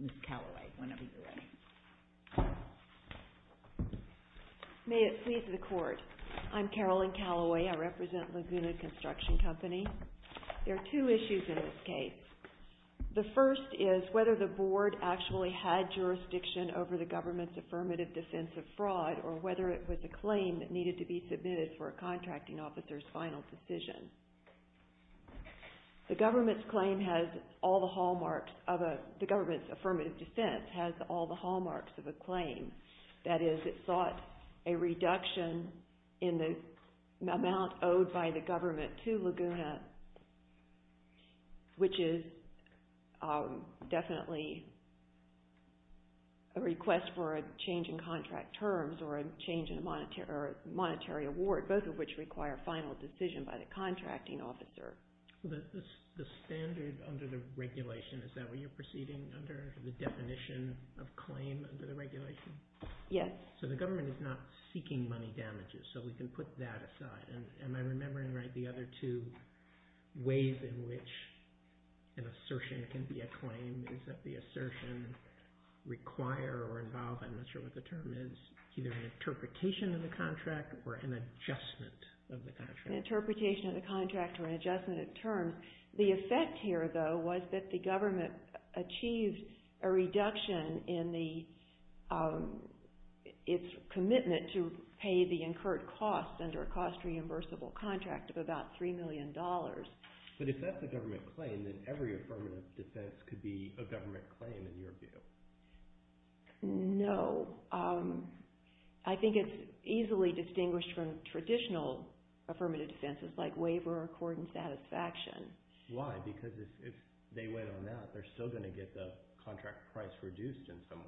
Ms. Callaway. May it please the Court. I'm Carolyn Callaway. I represent Laguna Construction Company. There are two issues in this case. The first is whether the Board actually had jurisdiction over the government's affirmative defense of fraud or whether it was a claim that needed to be submitted for a contracting officer's final decision. The government's affirmative defense has all the hallmarks of a claim. That is, it sought a reduction in the amount owed by the government to Laguna, which is definitely a request for a change in contract terms or a change in a monetary award, both of which require a final decision by the contracting officer. The standard under the regulation is that when you're proceeding under the definition of claim under the regulation. Yes. So the government is not seeking money damages, so we can put that aside. And I remember in the other two ways in which an assertion can be a claim is that the assertion require or involve, I'm not sure what the term is, either an interpretation of the contract or an adjustment of the contract. An interpretation of the contract or an adjustment of terms. The effect here, though, was that the government achieved a reduction in its commitment to pay the incurred cost under a cost-reimbursable contract of about $3 million. But if that's a government claim, then every affirmative defense could be a government claim in your view. No. I think it's easily distinguished from traditional affirmative defenses like waiver or accordance satisfaction. Why? Because if they went on that, they're still going to get the contract price reduced in some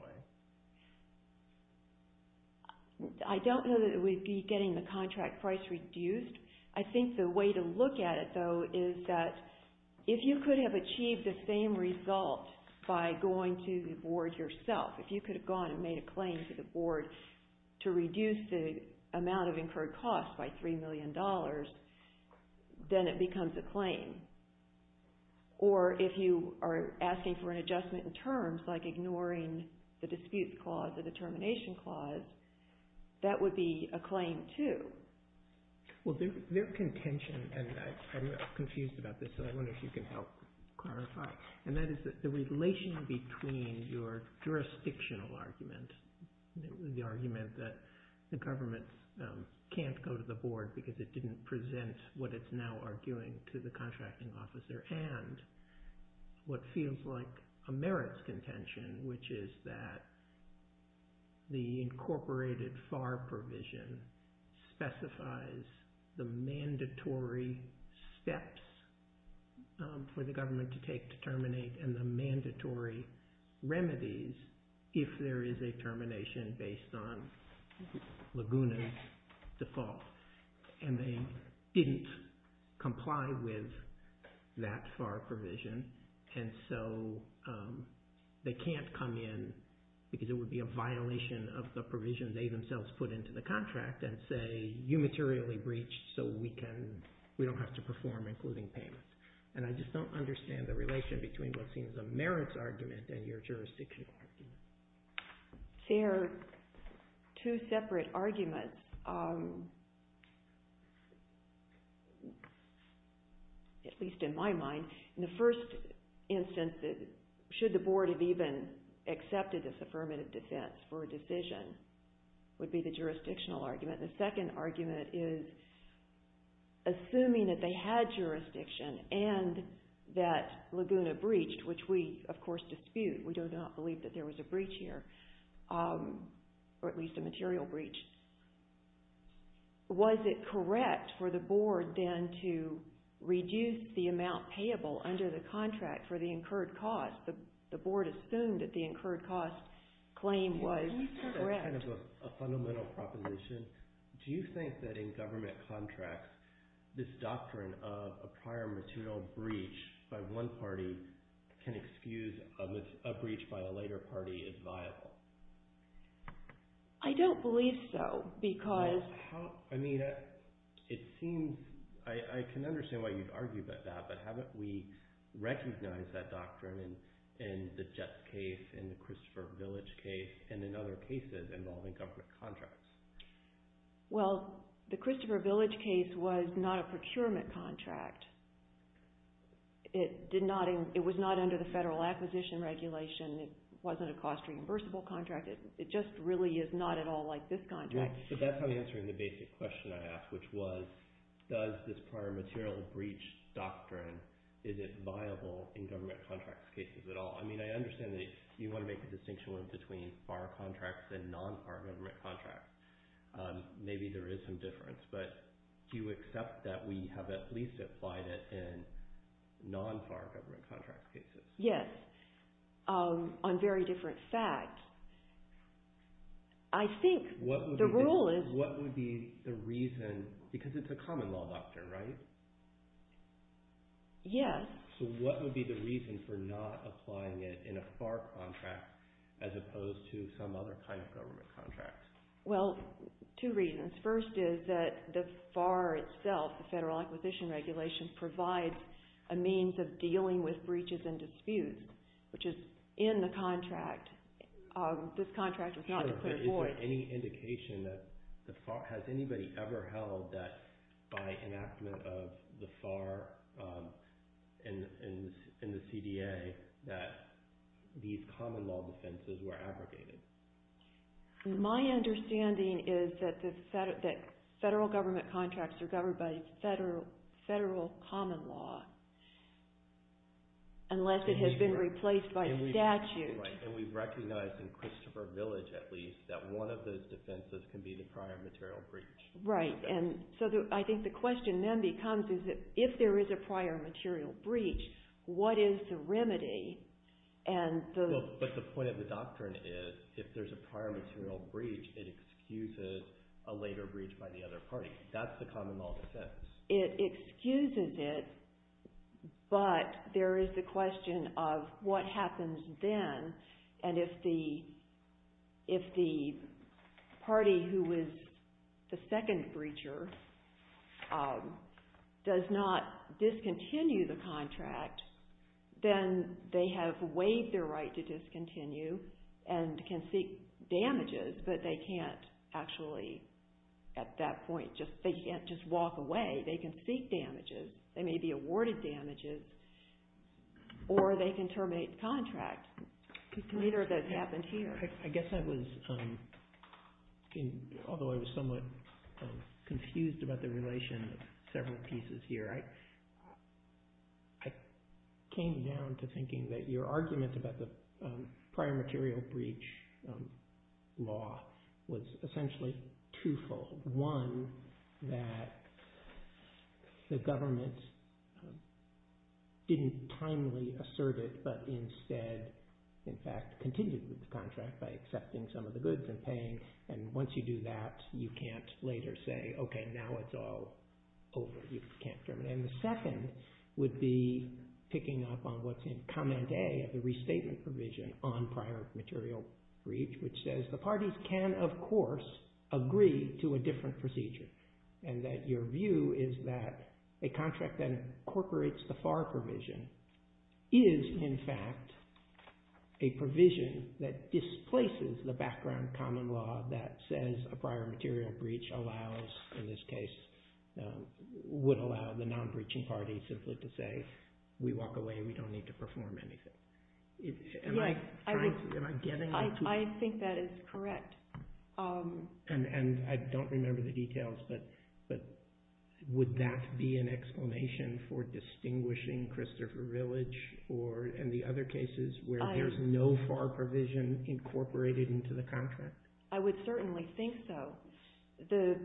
I think the way to look at it, though, is that if you could have achieved the same result by going to the board yourself, if you could have gone and made a claim to the board to reduce the amount of incurred cost by $3 million, then it becomes a claim. Or if you are asking for an adjustment in terms, like ignoring the disputes clause, the determination clause, that would be a claim, too. Well, their contention, and I'm confused about this, so I wonder if you can help clarify, and that is that the relation between your jurisdictional argument, the argument that the government can't go to the board because it didn't present what it's now arguing to the contracting officer, and what feels like a merits contention, which is that the incorporated FAR provision specifies the mandatory steps for the government to take to terminate and the mandatory remedies if there is a termination based on Laguna's fault, and they didn't comply with that FAR provision, and so they can't come in because it would be a violation of the provision they themselves put into the contract and say, you materially breached, so we don't have to perform including payment. And I just don't understand the relation between what seems a merits argument and your jurisdictional argument. There are two separate arguments, at least in my mind. In the first instance, should the board have even accepted this affirmative defense for a decision would be the jurisdictional argument. The second argument is assuming that they had jurisdiction and that Laguna breached, which we, of course, dispute. We do not believe that there was a breach here, or at least a material breach. Was it correct for the board then to reduce the amount payable under the contract for the incurred cost? The board assumed that the incurred cost claim was correct. That's kind of a fundamental proposition. Do you think that in government contracts, this doctrine of a prior material breach by one party can excuse a breach by a later party is viable? I don't believe so, because... I mean, it seems... I can understand why you'd argue about that, but how about we recognize that doctrine in the death case, in the Christopher Village case, and in other cases involving government contracts? Well, the Christopher Village case was not a procurement contract. It was not under the federal acquisition regulation. It wasn't a cost-reimbursable contract. It just really is not at all like this contract. So that's how you're answering the basic question I asked, which was, does this prior material breach doctrine, is it viable in government contracts cases at all? I mean, I understand that you want to make the distinction between FAR contracts and non-FAR government contracts. Maybe there is some difference, but do you accept that we have at least applied it in non-FAR government contract cases? Yes, on very different facts. I think the rule is... What would be the reason, because it's a common law doctrine, right? Yes. So what would be the reason for not applying it in a FAR contract as opposed to some other kind of government contract? Well, two reasons. First is that the FAR itself, the Federal Acquisition Regulation, provides a means of dealing with breaches and disputes, which is in the contract. This contract is not declared for it. Is there any indication that the FAR... in the CDA, that these common law defenses were abrogated? My understanding is that Federal government contracts are governed by Federal common law, unless it has been replaced by statute. Right, and we recognize in Christopher Village, at least, that one of those defenses can be the prior material breach. Right, and so I think the question then becomes, is that if there is a prior material breach, what is the remedy? And the... But the point of the doctrine is, if there's a prior material breach, it excuses a later breach by the other party. That's the common law defense. It excuses it, but there is a question of what happens then, and if the party who was the second breacher does not discontinue the contract, then they have waived their right to discontinue and can seek damages, but they can't actually, at that point, they can't just walk away. They can seek damages. They may be awarded damages, or they can terminate the contract. Neither of those happened here. I guess I was, although I was somewhat confused about the relation of several pieces here, I came down to thinking that your argument about the prior material breach law was essentially truthful. One, that the government didn't timely assert it, but instead, in fact, continued with the contract by accepting some of the goods and paying, and once you do that, you can't later say, okay, now it's all over. You can't terminate. And the second would be picking up on what's in comment A, the restatement provision on prior material breach, which says the parties can, of course, agree to a different procedure, and that your view is that a contract that incorporates the FAR provision is, in fact, a provision that displaces the background common law that says a prior material breach allows, in this case, would allow the non-breaching party simply to say, we walk away and we don't need to perform anything. Am I getting that? I think that is correct. And I don't remember the details, but would that be an explanation for distinguishing Christopher Village or any other cases where there's no FAR provision incorporated into the contract? I would certainly think so. The...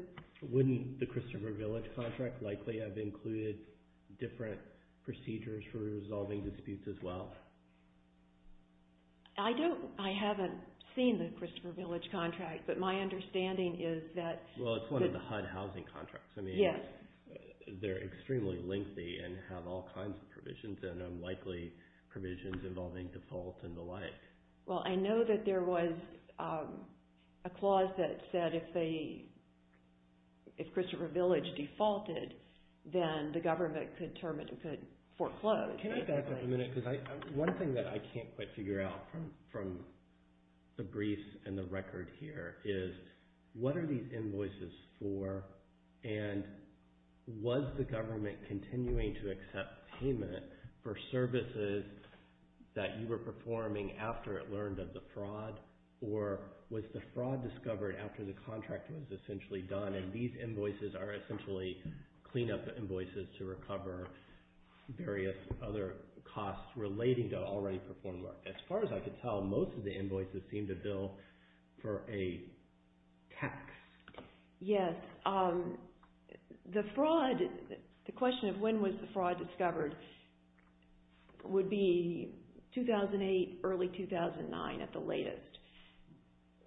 Wouldn't the Christopher Village contract likely have included different procedures for resolving disputes as well? I don't... I haven't seen the Christopher Village contract, but my understanding is that... Well, it's one of the HUD housing contracts. I mean... Yes. They're extremely lengthy and have all kinds of provisions and unlikely provisions involving default and the like. Well, I know that there was a clause that said if they... If Christopher Village defaulted, then the government could foreclose. One thing that I can't quite figure out from the briefs and the record here is, what are these invoices for, and was the government continuing to accept payment for services that you were performing after it learned of the fraud, or was the fraud discovered after the contract was essentially done, and these invoices are essentially cleanup invoices to recover various other costs relating to already performed work? As far as I can tell, most of the invoices seem to bill for a tax. Yes. Yes. The fraud... The question of when was the fraud discovered would be 2008, early 2009 at the latest.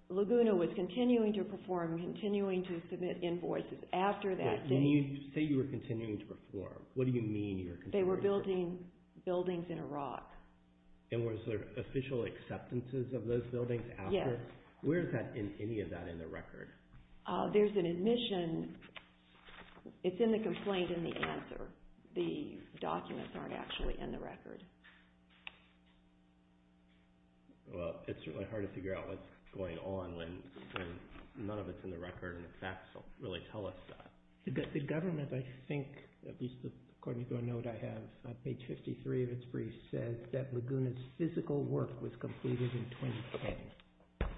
Laguna was continuing to perform, continuing to submit invoices after that date. When you say you were continuing to perform, what do you mean you're continuing? They were building buildings in Iraq. And was there official acceptances of those buildings after? Yes. Where is that in any of that in the record? There's an admission. It's in the complaint in the announcer. The documents aren't actually in the record. Well, it's really hard to figure out what's going on when none of it's in the record and facts don't really tell us that. The government, I think, at least according to a note I have on page 53 of its briefs, says that Laguna's physical work was completed in 2010.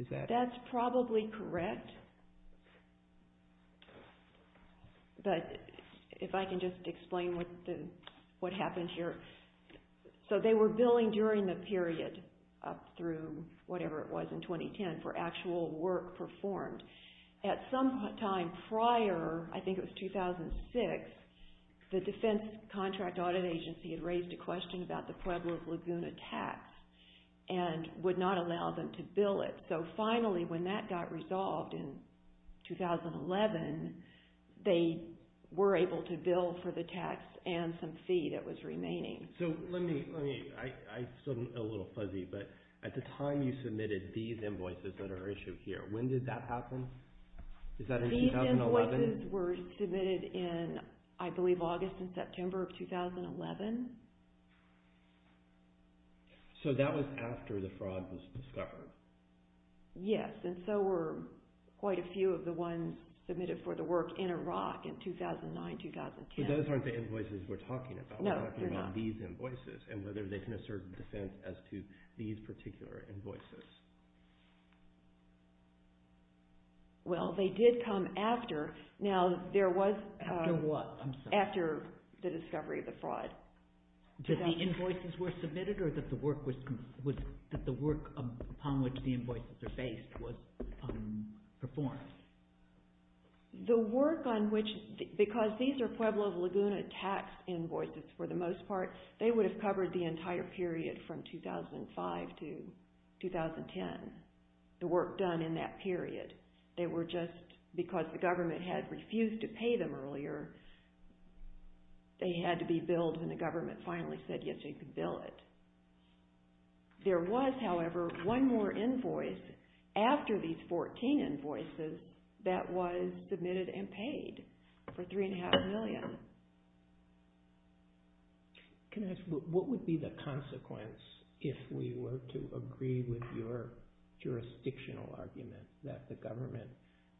Is that... That's probably correct. But if I can just explain what happened here. So they were billing during the period up through whatever it was in 2010 for actual work performed. At some time prior, I think it was 2006, the defense contract audit agency had raised a question about the Pueblo's Laguna tax and would not allow them to bill it. So finally, when that got resolved in 2011, they were able to bill for the tax and some fee that was remaining. So let me, I'm still a little fuzzy, but at the time you submitted these invoices that are issued here, when did that happen? Is that in 2011? These invoices were submitted in, I believe, August and September of 2011. So that was after the fraud was discovered. Yes, and so were quite a few of the ones submitted for the work in Iraq in 2009-2010. Those aren't the invoices we're talking about. No, they're not. We're talking about these invoices and whether they can assert defense as to these particular invoices. Well, they did come after. Now, there was... After what? I'm sorry. After the discovery of the fraud. Did the invoices were submitted or that the work upon which the invoice... was performed? The work on which... Because these are Pueblo Laguna tax invoices for the most part, they would have covered the entire period from 2005 to 2010, the work done in that period. They were just... Because the government had refused to pay them earlier, they had to be billed when the government finally said, yes, you can bill it. There was, however, one more invoice after these 14 invoices that was submitted and paid for $3.5 million. Can I ask, what would be the consequence if we were to agree with your jurisdictional argument that the government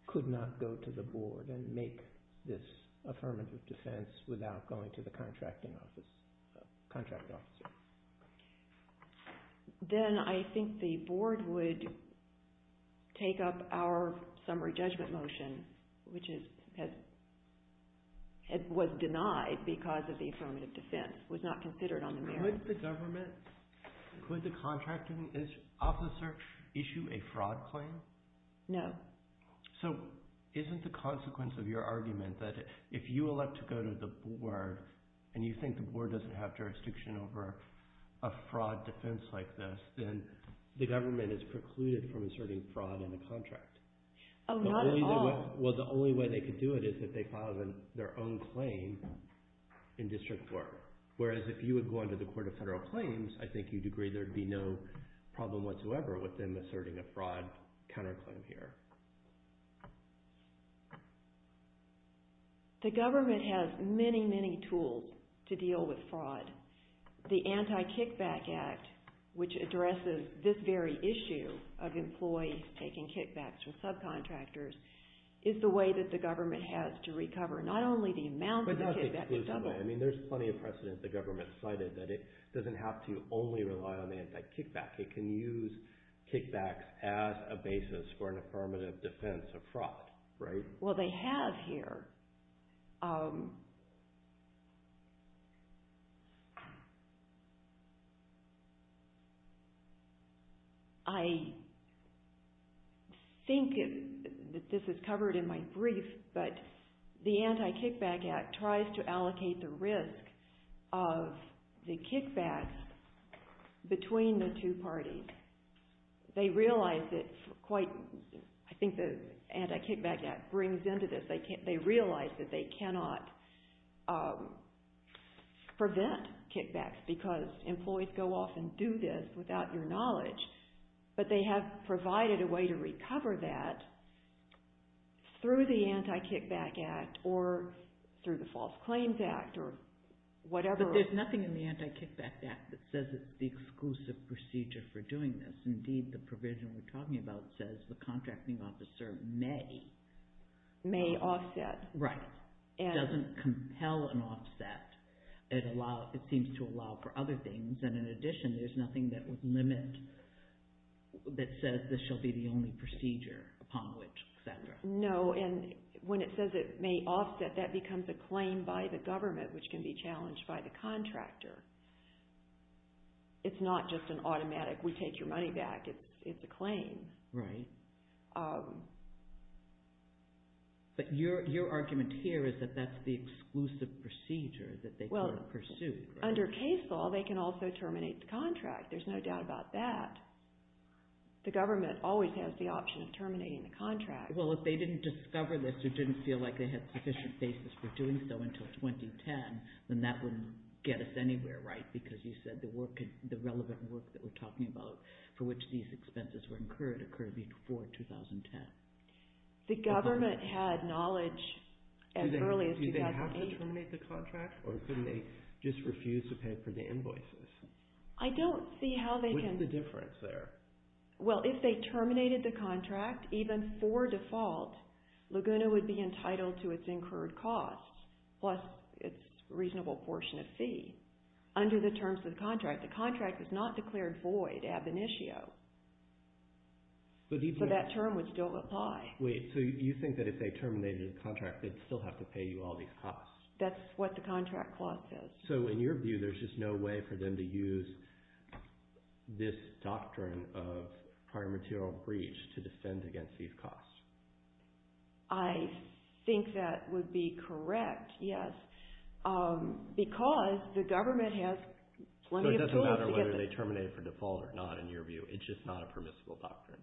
could not go to the board and make this affirmative defense without going to the contracting office? Contracting office. Okay. Then I think the board would take up our summary judgment motion, which was denied because of the affirmative defense, was not considered on the merits. Would the government... Would the contracting officer issue a fraud claim? No. So isn't the consequence of your argument that if you elect to go to the board and you think the board doesn't have jurisdiction over a fraud defense like this, then the government is precluded from inserting fraud in a contract. Oh, not at all. Well, the only way they could do it is if they filed their own claim in district court. Whereas if you would go into the court of federal claims, I think you'd agree there'd be no problem whatsoever with them asserting a fraud counterclaim here. The government has many, many tools to deal with fraud. The Anti-Kickback Act, which addresses this very issue of employees taking kickbacks with subcontractors, is the way that the government has to recover not only the amount of kickbacks... But that's the excuse on that. I mean, there's plenty of precedent the government cited that it doesn't have to only rely on anti-kickbacks. It can use kickbacks as a basis for an affirmative defense. Defensive defense of fraud, right? Well, they have here. I think that this is covered in my brief, but the Anti-Kickback Act tries to allocate the risk of the kickbacks between the two parties. They realize it's quite... I think the Anti-Kickback Act brings into this. They realize that they cannot prevent kickbacks because employees go off and do this without your knowledge, but they have provided a way to recover that through the Anti-Kickback Act or through the False Claims Act or whatever. But there's nothing in the Anti-Kickback Act that says it's the exclusive procedure for doing this. Indeed, the provision we're talking about says the contracting officer may. May offset. Right. It doesn't compel an offset. It seems to allow for other things, and in addition, there's nothing that would limit... that says this shall be the only procedure upon which, et cetera. No, and when it says it may offset, that becomes a claim by the government, which can be challenged by the contractor. It's not just an automatic, we take your money back. It's a claim. Right. But your argument here is that that's the exclusive procedure that they could have pursued. Under case law, they can also terminate the contract. There's no doubt about that. The government always has the option of terminating the contract. Well, if they didn't discover this, it didn't feel like they had sufficient basis for doing so until 2010, then that wouldn't get us anywhere, right? Because you said the relevant work that we're talking about for which these expenses were incurred occurred before 2010. The government had knowledge as early as 2008. Did they have to terminate the contract, or couldn't they just refuse to pay for the invoices? I don't see how they can... What's the difference there? Well, if they terminated the contract, even for default, Laguna would be entitled to its incurred costs, plus its reasonable portion of fee. Under the terms of the contract, the contract is not declared void, ab initio. But that term would still apply. Wait, so you think that if they terminated the contract, they'd still have to pay you all these costs? That's what the contract clause says. So in your view, there's just no way for them to use this doctrine of prior material breach to defend against these costs? I think that would be correct, yes. Because the government has... It doesn't matter whether they terminate it for default or not, in your view. It's just not a permissible doctrine.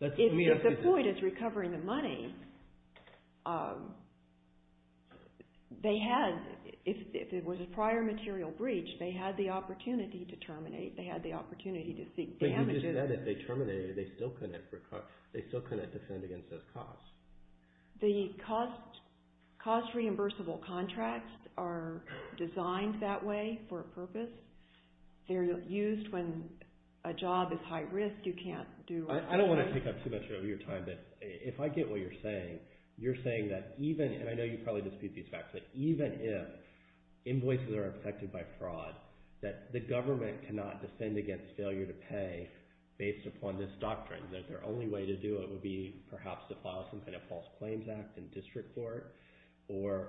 If the point is recovering the money, they had, if it was a prior material breach, they had the opportunity to terminate. They had the opportunity to seek damages. But you just said that if they terminated it, they still couldn't defend against those costs. The cost-reimbursable contracts are designed that way for a purpose. They're used when a job is high risk, you can't do... I don't want to pick up too much of your time, but if I get what you're saying, you're saying that even... And I know you probably dispute these facts, but even if invoices are affected by fraud, that the government cannot defend against failure to pay based upon this doctrine. That their only way to do it would be, perhaps, to file some kind of false claims act in district court or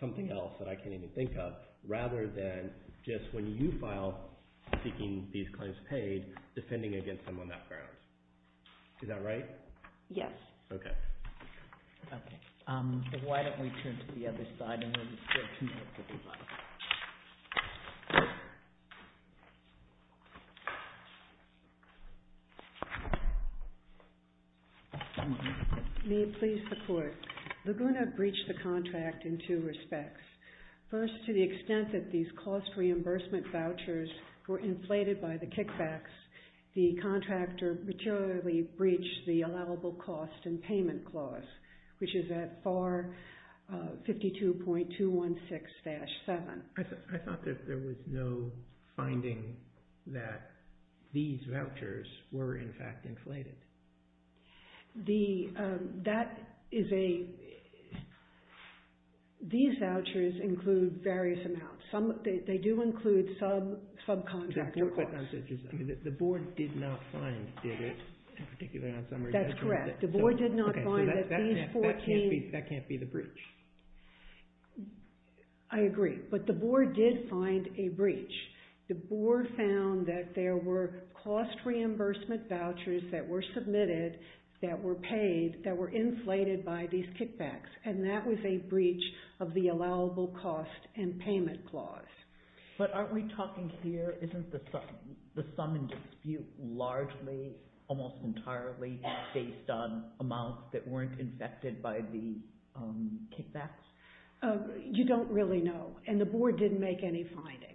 something else that I can't even think of, rather than just when you file, seeking these claims paid, defending against someone that failed. Is that right? Yes. Okay. Okay. Why don't we turn to the other side and then... May it please the court. Laguna breached the contract in two respects. First, to the extent that these cost-reimbursement vouchers were inflated by the kickbacks, the contractor materially breached the allowable cost and payment clause, which is at FAR 52.216-7. I thought that there was no finding that these vouchers were, in fact, inflated. The... That is a... These vouchers include various amounts. Some... They do include subcontractor costs. The board did not find it, in particular... That's correct. The board did not find that these 14... That can't be the breach. I agree. But the board did find a breach. The board found that there were cost-reimbursement vouchers that were submitted, that were paid, that were inflated by these kickbacks. And that was a breach of the allowable cost and payment clause. But aren't we talking here... Isn't the sum in dispute largely, almost entirely, based on amounts that weren't infected by the kickbacks? You don't really know. And the board didn't make any findings.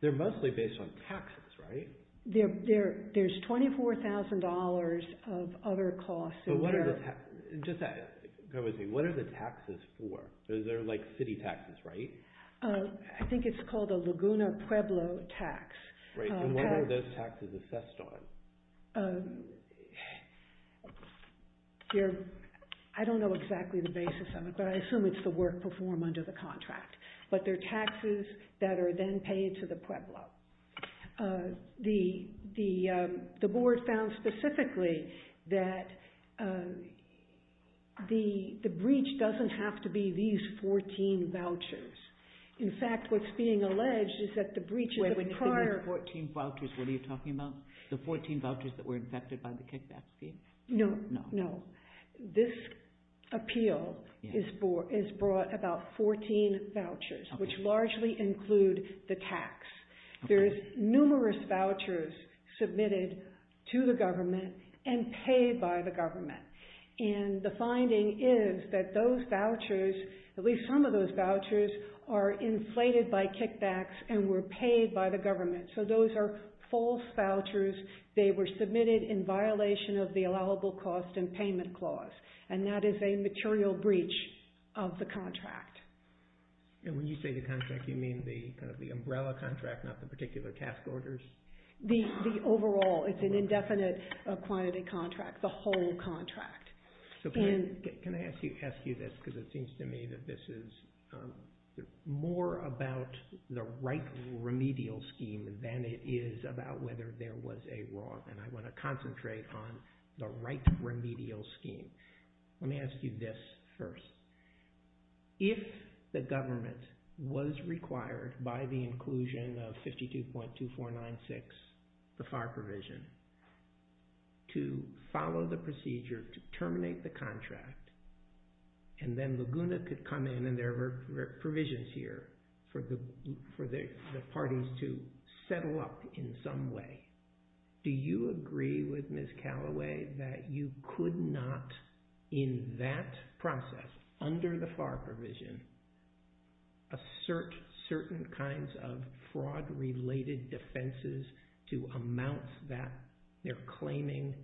They're mostly based on taxes, right? There's $24,000 of other costs. And what are the... Just that... What are the taxes for? They're like city taxes, right? I think it's called a Laguna Pueblo tax. Right. And what are those taxes assessed on? I don't know exactly the basis of it, but I assume it's the work performed under the contract. But they're taxes that are then paid to the Pueblo. Well, the board found specifically that the breach doesn't have to be these 14 vouchers. In fact, what's being alleged is that the breaches of the prior... Wait a minute, the 14 vouchers. What are you talking about? The 14 vouchers that were infected by the kickback scheme? No, no. This appeal is brought about 14 vouchers, which largely include the tax. There is numerous vouchers submitted to the government and paid by the government. And the finding is that those vouchers, at least some of those vouchers, are inflated by kickbacks and were paid by the government. So those are false vouchers. They were submitted in violation of the allowable cost and payment clause. And that is a material breach of the contract. And when you say the contract, you mean the umbrella contract, not the particular task orders? The overall. It's an indefinite quantity contract, the whole contract. Can I ask you this? Because it seems to me that this is more about the right remedial scheme than it is about whether there was a wrong. And I want to concentrate on the right remedial scheme. Let me ask you this first. If the government was required by the inclusion of 52.2496, the FAR provision, to follow the procedure to terminate the contract, and then Laguna could come in and there were provisions here for the parties to settle up in some way, do you agree with Ms. Callaway that you could not, in that process, under the FAR provision, assert certain kinds of fraud-related defenses to amounts that they're claiming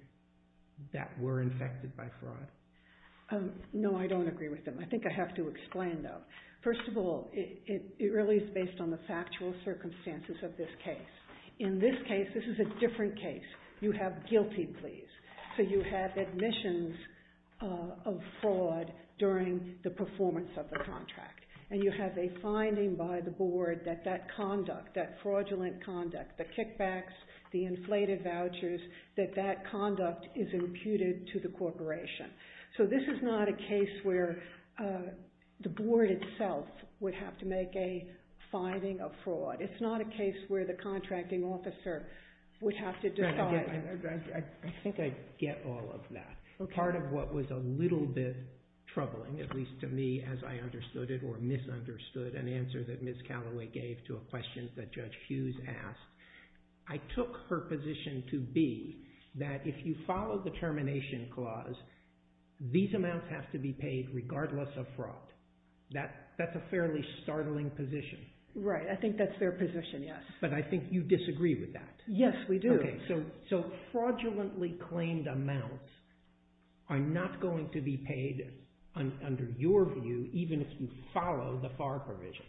that were infected by fraud? No, I don't agree with them. I think I have to explain, though. First of all, it really is based on the factual circumstances of this case. In this case, this is a different case. You have guilty pleas. So you have admissions of fraud during the performance of the contract. And you have a finding by the board that that conduct, that fraudulent conduct, the kickbacks, the inflated vouchers, that that conduct is imputed to the corporation. So this is not a case where the board itself would have to make a finding of fraud. It's not a case where the contracting officer would have to decide. I think I get all of that. Part of what was a little bit troubling, at least to me as I understood it, or misunderstood an answer that Ms. Callaway gave to a question that Judge Hughes asked, I took her position to be that if you follow the termination clause, these amounts have to be paid regardless of fraud. That's a fairly startling position. Right, I think that's a fair position, yes. But I think you disagree with that. Yes, we do. So fraudulently claimed amounts are not going to be paid under your view, even if you follow the FAR provision.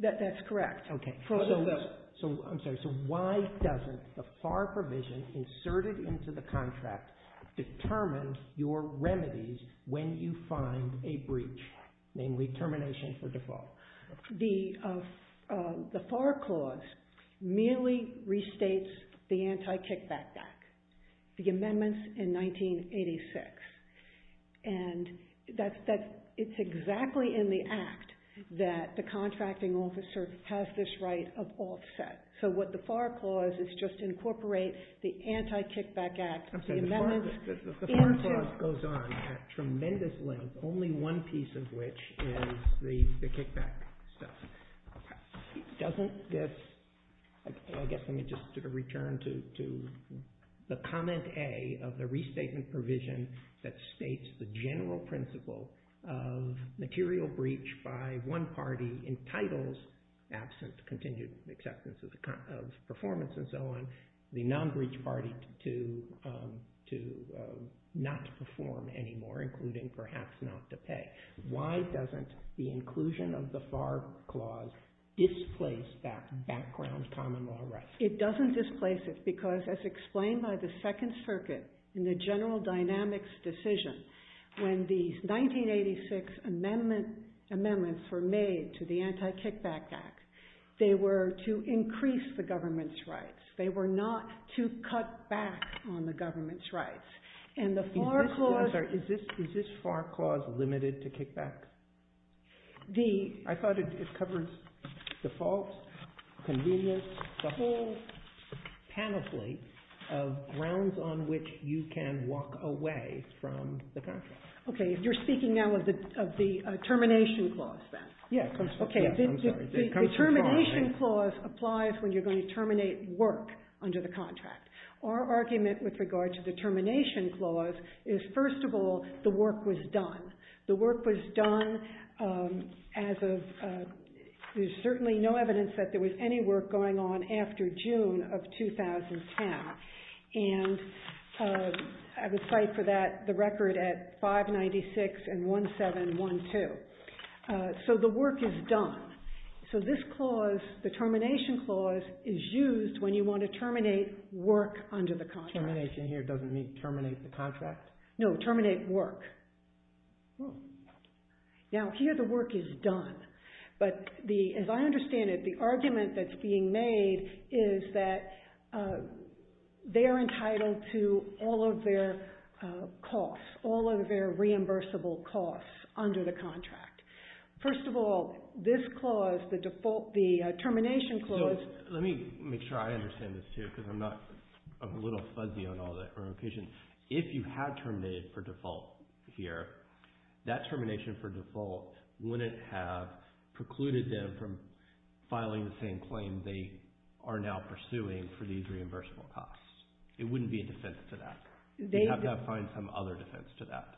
That's correct. I'm sorry, so why doesn't the FAR provision inserted into the contract determine your remedies when you find a breach, namely termination for default? The FAR clause merely restates the anti-kickback act, the amendments in 1986. And it's exactly in the act that the contracting officer has this right of offset. So what the FAR clause is just to incorporate the anti-kickback act. I'm sorry, the FAR clause goes on at tremendous length, only one piece of which is the kickback stuff. Doesn't this, I guess let me just return to the comment A of the restatement provision that states the general principle of material breach by one party entitles absence, continued acceptance of performance and so on, the non-breach party to not perform anymore, including perhaps not to pay. Why doesn't the inclusion of the FAR clause displace that background common law right? It doesn't displace it because as explained by the second circuit in the general dynamics decision, when the 1986 amendments were made to the anti-kickback act, they were to increase the government's rights. They were not to cut back on the government's rights. And the FAR clause... I'm sorry, is this FAR clause limited to kickback? I thought it covers defaults, convenience, the whole panoply of grounds on which you can walk away from the contract. Okay, you're speaking now of the termination clause then? Yeah, I'm sorry. The termination clause applies when you're going to terminate work under the contract. Our argument with regard to the termination clause is first of all, the work was done. The work was done as of... There's certainly no evidence that there was any work going on after June of 2010. And I would cite for that the record at 596 and 1712. So the work is done. So this clause, the termination clause, is used when you want to terminate work under the contract. Termination here doesn't mean terminate the contract. No, terminate work. Now, here the work is done. But as I understand it, the argument that's being made is that they are entitled to all of their costs, all of their reimbursable costs under the contract. First of all, this clause, the termination clause... Let me make sure I understand this too, because I'm not a little fuzzy on all that. Or efficient. If you had terminated for default here, that termination for default wouldn't have precluded them from filing the same claim they are now pursuing for these reimbursable costs. It wouldn't be a defense to that. They have to find some other defense to that.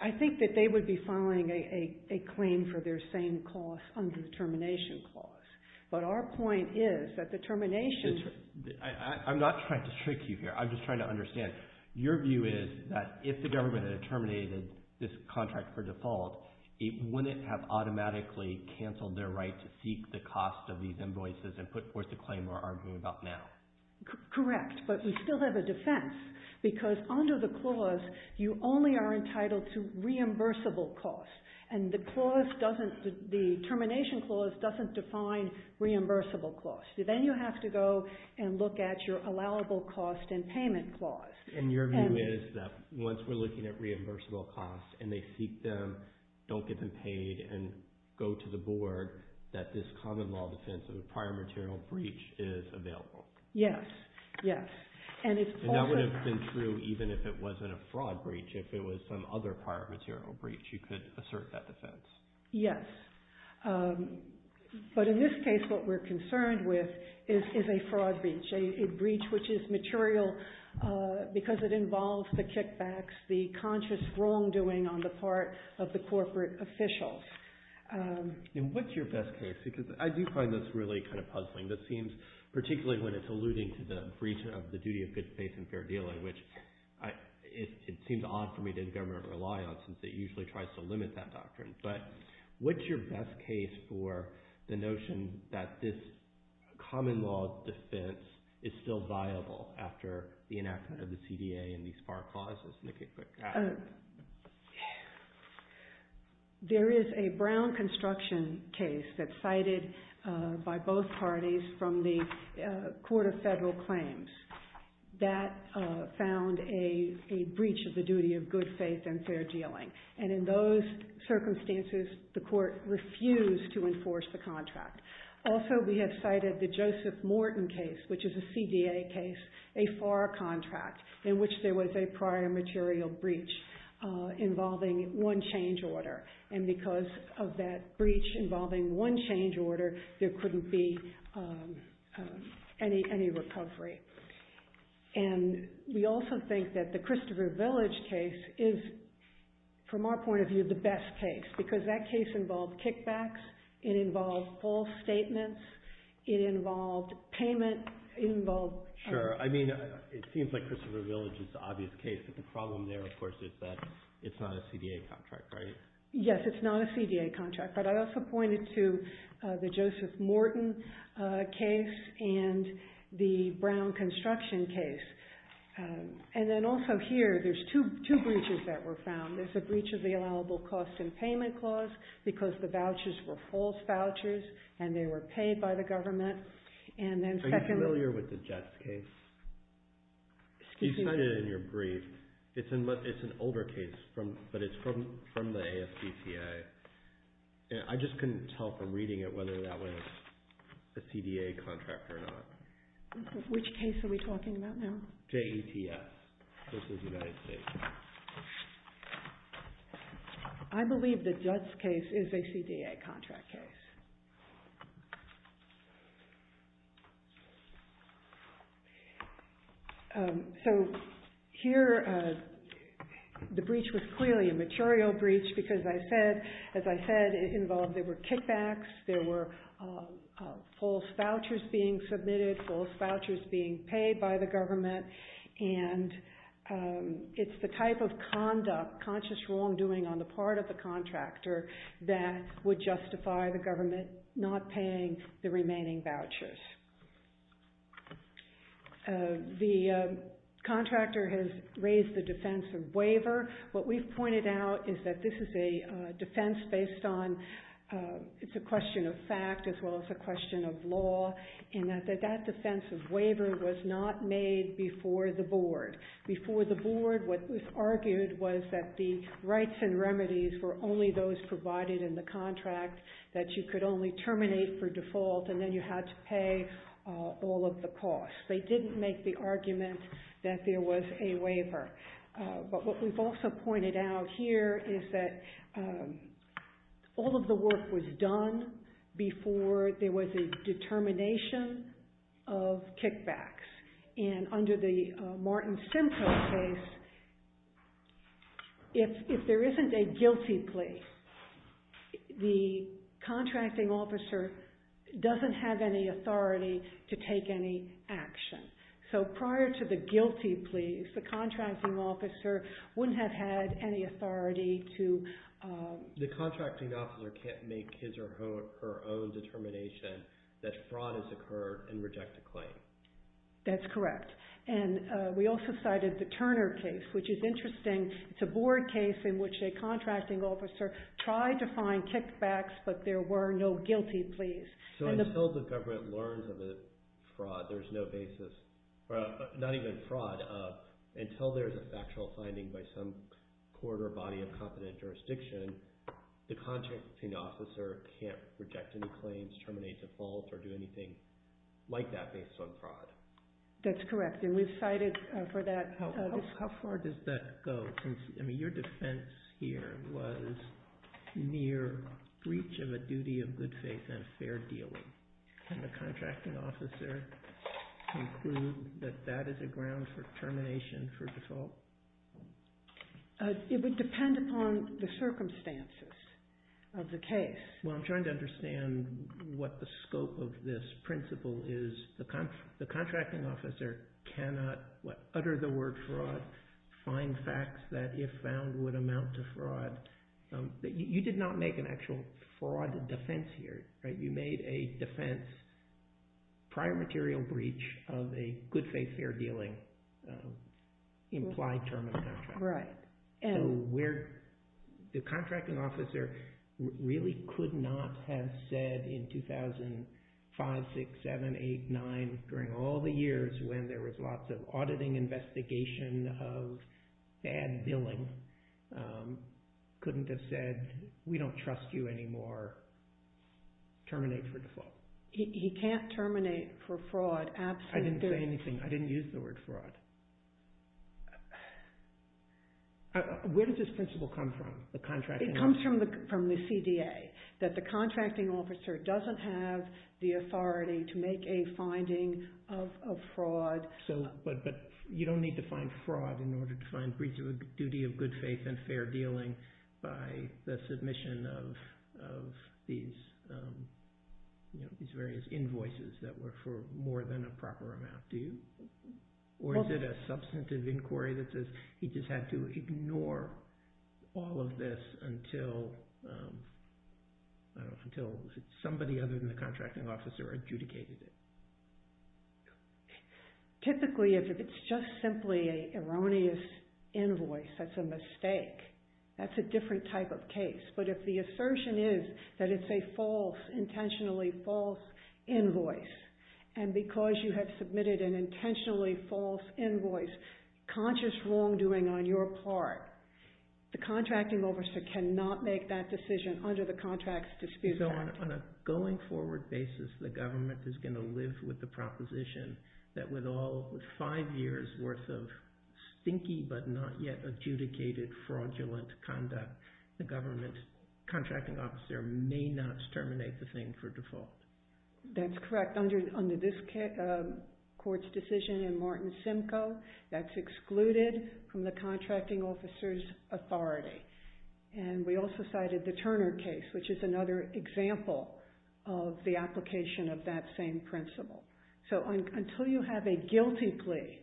I think that they would be filing a claim for their same cost under the termination clause. But our point is that the termination... I'm not trying to trick you here. I'm just trying to understand. Your view is that if the government had terminated this contract for default, it wouldn't have automatically canceled their right to seek the cost of these invoices and put forth the claim we're arguing about now. Correct. But we still have a defense. Because under the clause, you only are entitled to reimbursable costs. And the termination clause doesn't define reimbursable costs. Then you have to go and look at your allowable cost and payment clause. And your view is that once we're looking at reimbursable costs, and they seek them, don't get them paid, and go to the board, that this common law defense of a prior material breach is available. Yes. Yes. And that would have been true even if it wasn't a fraud breach. If it was some other prior material breach, you could assert that defense. Yes. But in this case, what we're concerned with is a fraud breach, a breach which is material because it involves the kickbacks, the conscious wrongdoing on the part of the corporate officials. And what's your best case? Because I do find this really kind of puzzling. This seems, particularly when it's alluding to the breach of the duty of good faith and fair dealing, which it seems odd for me that the government would rely on since it usually tries to limit that doctrine. But what's your best case for the notion that this common law defense is still viable after the enactment of the CDA and these FAR clauses? There is a Brown construction case that's cited by both parties that found a breach of the duty of good faith and fair dealing. And in those circumstances, the court refused to enforce the contract. Also, we have cited the Joseph Morton case, which is a CDA case, a FAR contract in which there was a prior material breach involving one change order. And because of that breach involving one change order, there couldn't be any recovery. And we also think that the Christopher Village case is, from our point of view, the best case, because that case involved kickbacks. It involved false statements. It involved payment. It involved... Sure. I mean, it seems like Christopher Village is the obvious case. But the problem there, of course, is that it's not a CDA contract, right? Yes, it's not a CDA contract. But I also pointed to the Joseph Morton case and the Brown construction case. And then also here, there's two breaches that were found. There's a breach of the allowable cost and payment clause because the vouchers were false vouchers and they were paid by the government. And then second... I'm not familiar with the Jets case. You've cited it in your brief. It's an older case, but it's from the AFPCA. I just couldn't tell from reading it whether that was a CDA contract or not. Which case are we talking about now? JETS. I believe the Jets case is a CDA contract case. So here, the breach was clearly a material breach because as I said, it involved... There were kickbacks. There were false vouchers being submitted, false vouchers being paid by the government. And it's the type of conduct, conscious wrongdoing on the part of the contractor that would justify the government not paying the remaining vouchers. The contractor has raised the defense of waiver. What we've pointed out is that this is a defense based on... It's a question of fact as well as a question of law in that that defense of waiver was not made before the board. Before the board, what was argued was that the rights and remedies were only those provided in the contract that you could only terminate for default and then you had to pay all of the costs. They didn't make the argument that there was a waiver. But what we've also pointed out here is that all of the work was done before there was a determination of kickbacks. And under the Martin Simpson case, if there isn't a guilty plea, the contracting officer doesn't have any authority to take any action. So prior to the guilty plea, if the contracting officer wouldn't have had any authority to... The contracting officer can't make his or her own determination that fraud has occurred and reject a claim. That's correct. And we also cited the Turner case, which is interesting. It's a board case in which a contracting officer tried to find kickbacks, but there were no guilty pleas. So until the government learns of a fraud, there's no basis... Not even fraud. Until there's a factual finding by some court or body of competent jurisdiction, the contracting officer can't reject any claims, terminate the fault, or do anything like that based on fraud. That's correct. And we've cited for that... How far does that go? Your defense here was near breach of a duty of good faith and fair dealing. Can the contracting officer conclude that that is a ground It would depend upon the circumstances of the case. Well, I'm trying to understand what the scope of this principle is. The contracting officer cannot utter the word fraud, find facts that if found would amount to fraud. You did not make an actual fraud defense here, right? You made a defense, prior material breach of a good faith, fair dealing implied term of contract. Right. And the contracting officer really could not have said in 2005, six, seven, eight, nine, during all the years when there was lots of auditing investigation of and billing, couldn't have said, we don't trust you anymore. Terminate for default. He can't terminate for fraud. Absolutely. I didn't say anything. I didn't use the word fraud. Where did this principle come from? The contract? It comes from the CDA, that the contracting officer doesn't have the authority to make a finding of fraud. But you don't need to find fraud in order to find breach of a duty of good faith and fair dealing by the submission of these various invoices that were for more than a proper amount, do you? Or is it a substantive inquiry that he just had to ignore all of this until somebody other than the contracting officer adjudicated it? Typically, if it's just simply an erroneous invoice, that's a mistake. That's a different type of case. But if the assertion is that it's a false, intentionally false invoice, and because you have submitted an intentionally false invoice, conscious wrongdoing on your part, the contracting officer cannot make that decision under the contracts dispute. So on a going forward basis, the government is going to live with the proposition that with all five years worth of stinky but not yet adjudicated, fraudulent conduct, the government contracting officer may not terminate the thing for default. That's correct. Under this court's decision in Martin Simcoe, that's excluded from the contracting officer's authority. And we also cited the Turner case, which is another example of the application of that same principle. So until you have a guilty plea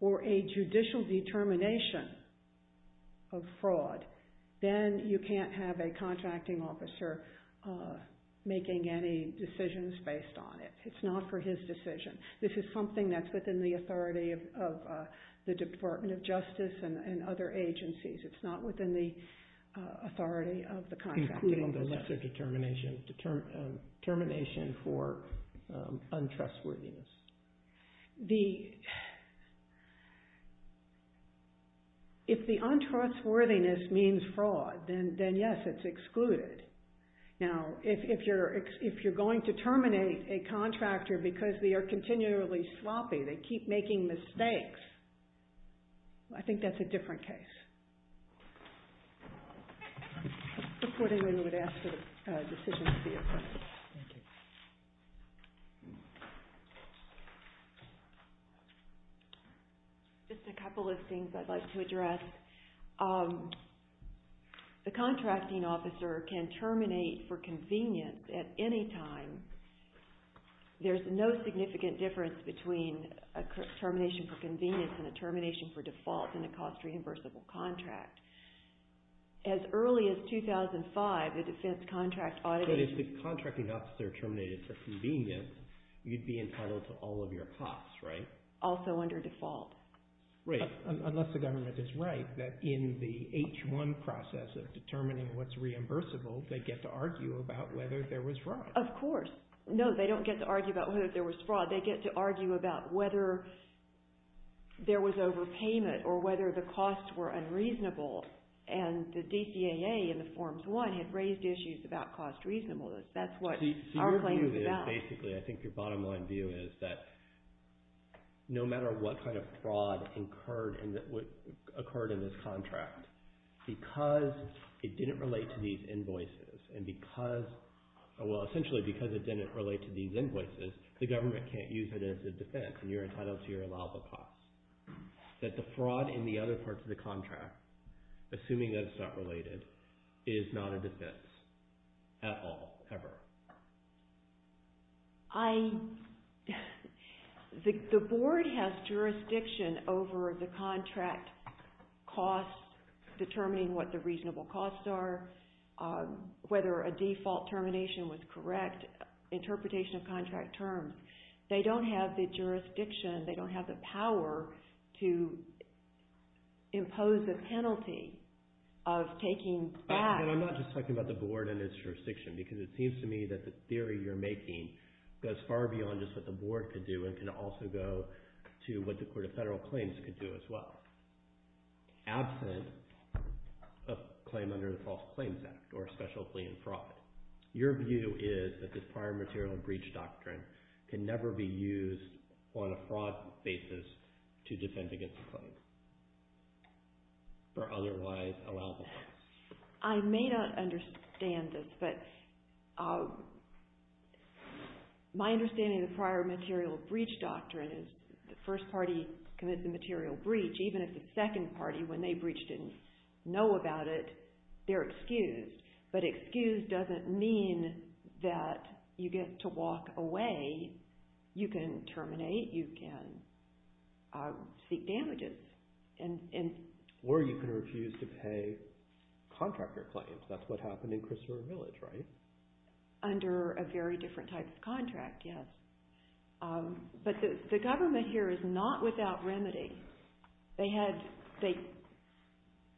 or a judicial determination of fraud, then you can't have a contracting officer making any decisions based on it. It's not for his decision. This is something that's within the authority of the Department of Justice and other agencies. It's not within the authority of the contracting officer. Including the necessary determination for untrustworthiness. If the untrustworthiness means fraud, then yes, it's excluded. Now, if you're going to terminate a contractor because they are continually sloppy, they keep making mistakes, I think that's a different case. Just a couple of things I'd like to address. The contracting officer can terminate for convenience at any time. There's no significant difference between a termination for convenience and a termination for default in a cost-reimbursable contract. As early as 2005, the defense contract audited... But if the contracting officer terminated for convenience, you'd be entitled to all of your costs, right? Also under default. Right. Unless the government is right that in the H-1 process of determining what's reimbursable, they get to argue about whether there was fraud. Of course. No, they don't get to argue about whether there was fraud. They get to argue about whether there was overpayment or whether the costs were unreasonable and the DCAA and the Forms 1 have raised issues about cost reasonableness. That's what our claim is about. I think your bottom line view is that no matter what kind of fraud occurred in this contract, because it didn't relate to these invoices and because... Well, essentially, because it didn't relate to these invoices, the government can't use it as a defense. And you're entitled to your allowable costs. That the fraud in the other parts of the contract, assuming those are related, is not a defense at all, ever. The board has jurisdiction over the contract costs, determining what the reasonable costs are, whether a default termination was correct, interpretation of contract terms. They don't have the jurisdiction. They don't have the power to impose a penalty of taking back... And I'm not just talking about the board and its jurisdiction, because it seems to me that the theory you're making goes far beyond just what the board could do. It can also go to what the court of federal claims could do as well. Absent a claim under the False Claims Act or a special plea in fraud, your view is that this fire, material, and breach doctrine can never be used on a fraud basis to defend against a claim for otherwise allowable costs. I may not understand this, but my understanding of the prior material breach doctrine is the first party commits a material breach, even if the second party, when they breach, didn't know about it, they're excused. But excused doesn't mean that you get to walk away. You can terminate. You can seek damages. Or you can refuse to pay contractor claims. That's what happened in Christian Village, right? Under a very different type of contract, yes. But the government here is not without remedy.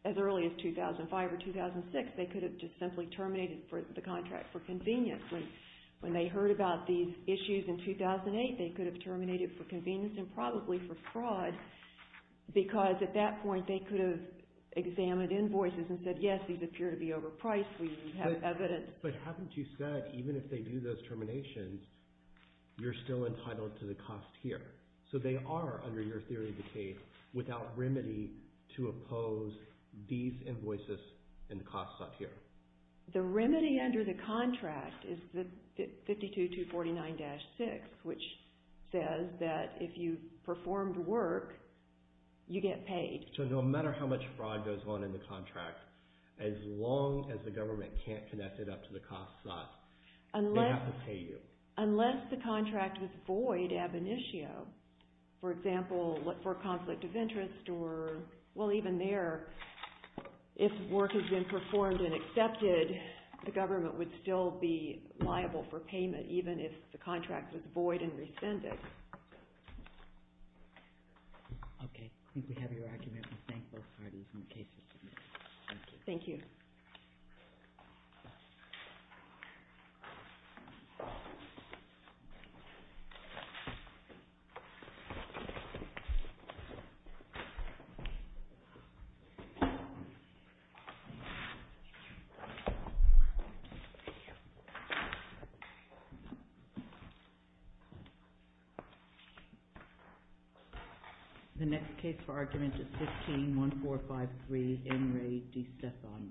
As early as 2005 or 2006, they could have just simply terminated the contract for convenience. When they heard about these issues in 2008, they could have terminated for convenience and probably for fraud because at that point, they could have examined invoices and said, yes, these appear to be overpriced. We have evidence. But haven't you said, even if they do those terminations, you're still entitled to the cost here. So they are, under your theory of the case, without remedy to oppose these invoices and costs out here. The remedy under the contract is the 52249-6, which says that if you performed work, you get paid. So no matter how much fraud goes on in the contract, as long as the government can't connect it up to the cost side, they have to pay you. Unless the contract was void ab initio. For example, what for a conflict of interest or, well, even there, if work has been performed and accepted, the government would still be liable for payment, even if the contract was void and rescinded. OK, we have your argument. Thank you. Thank you. The next case for argument is 15-1453, Henry D. Stefan.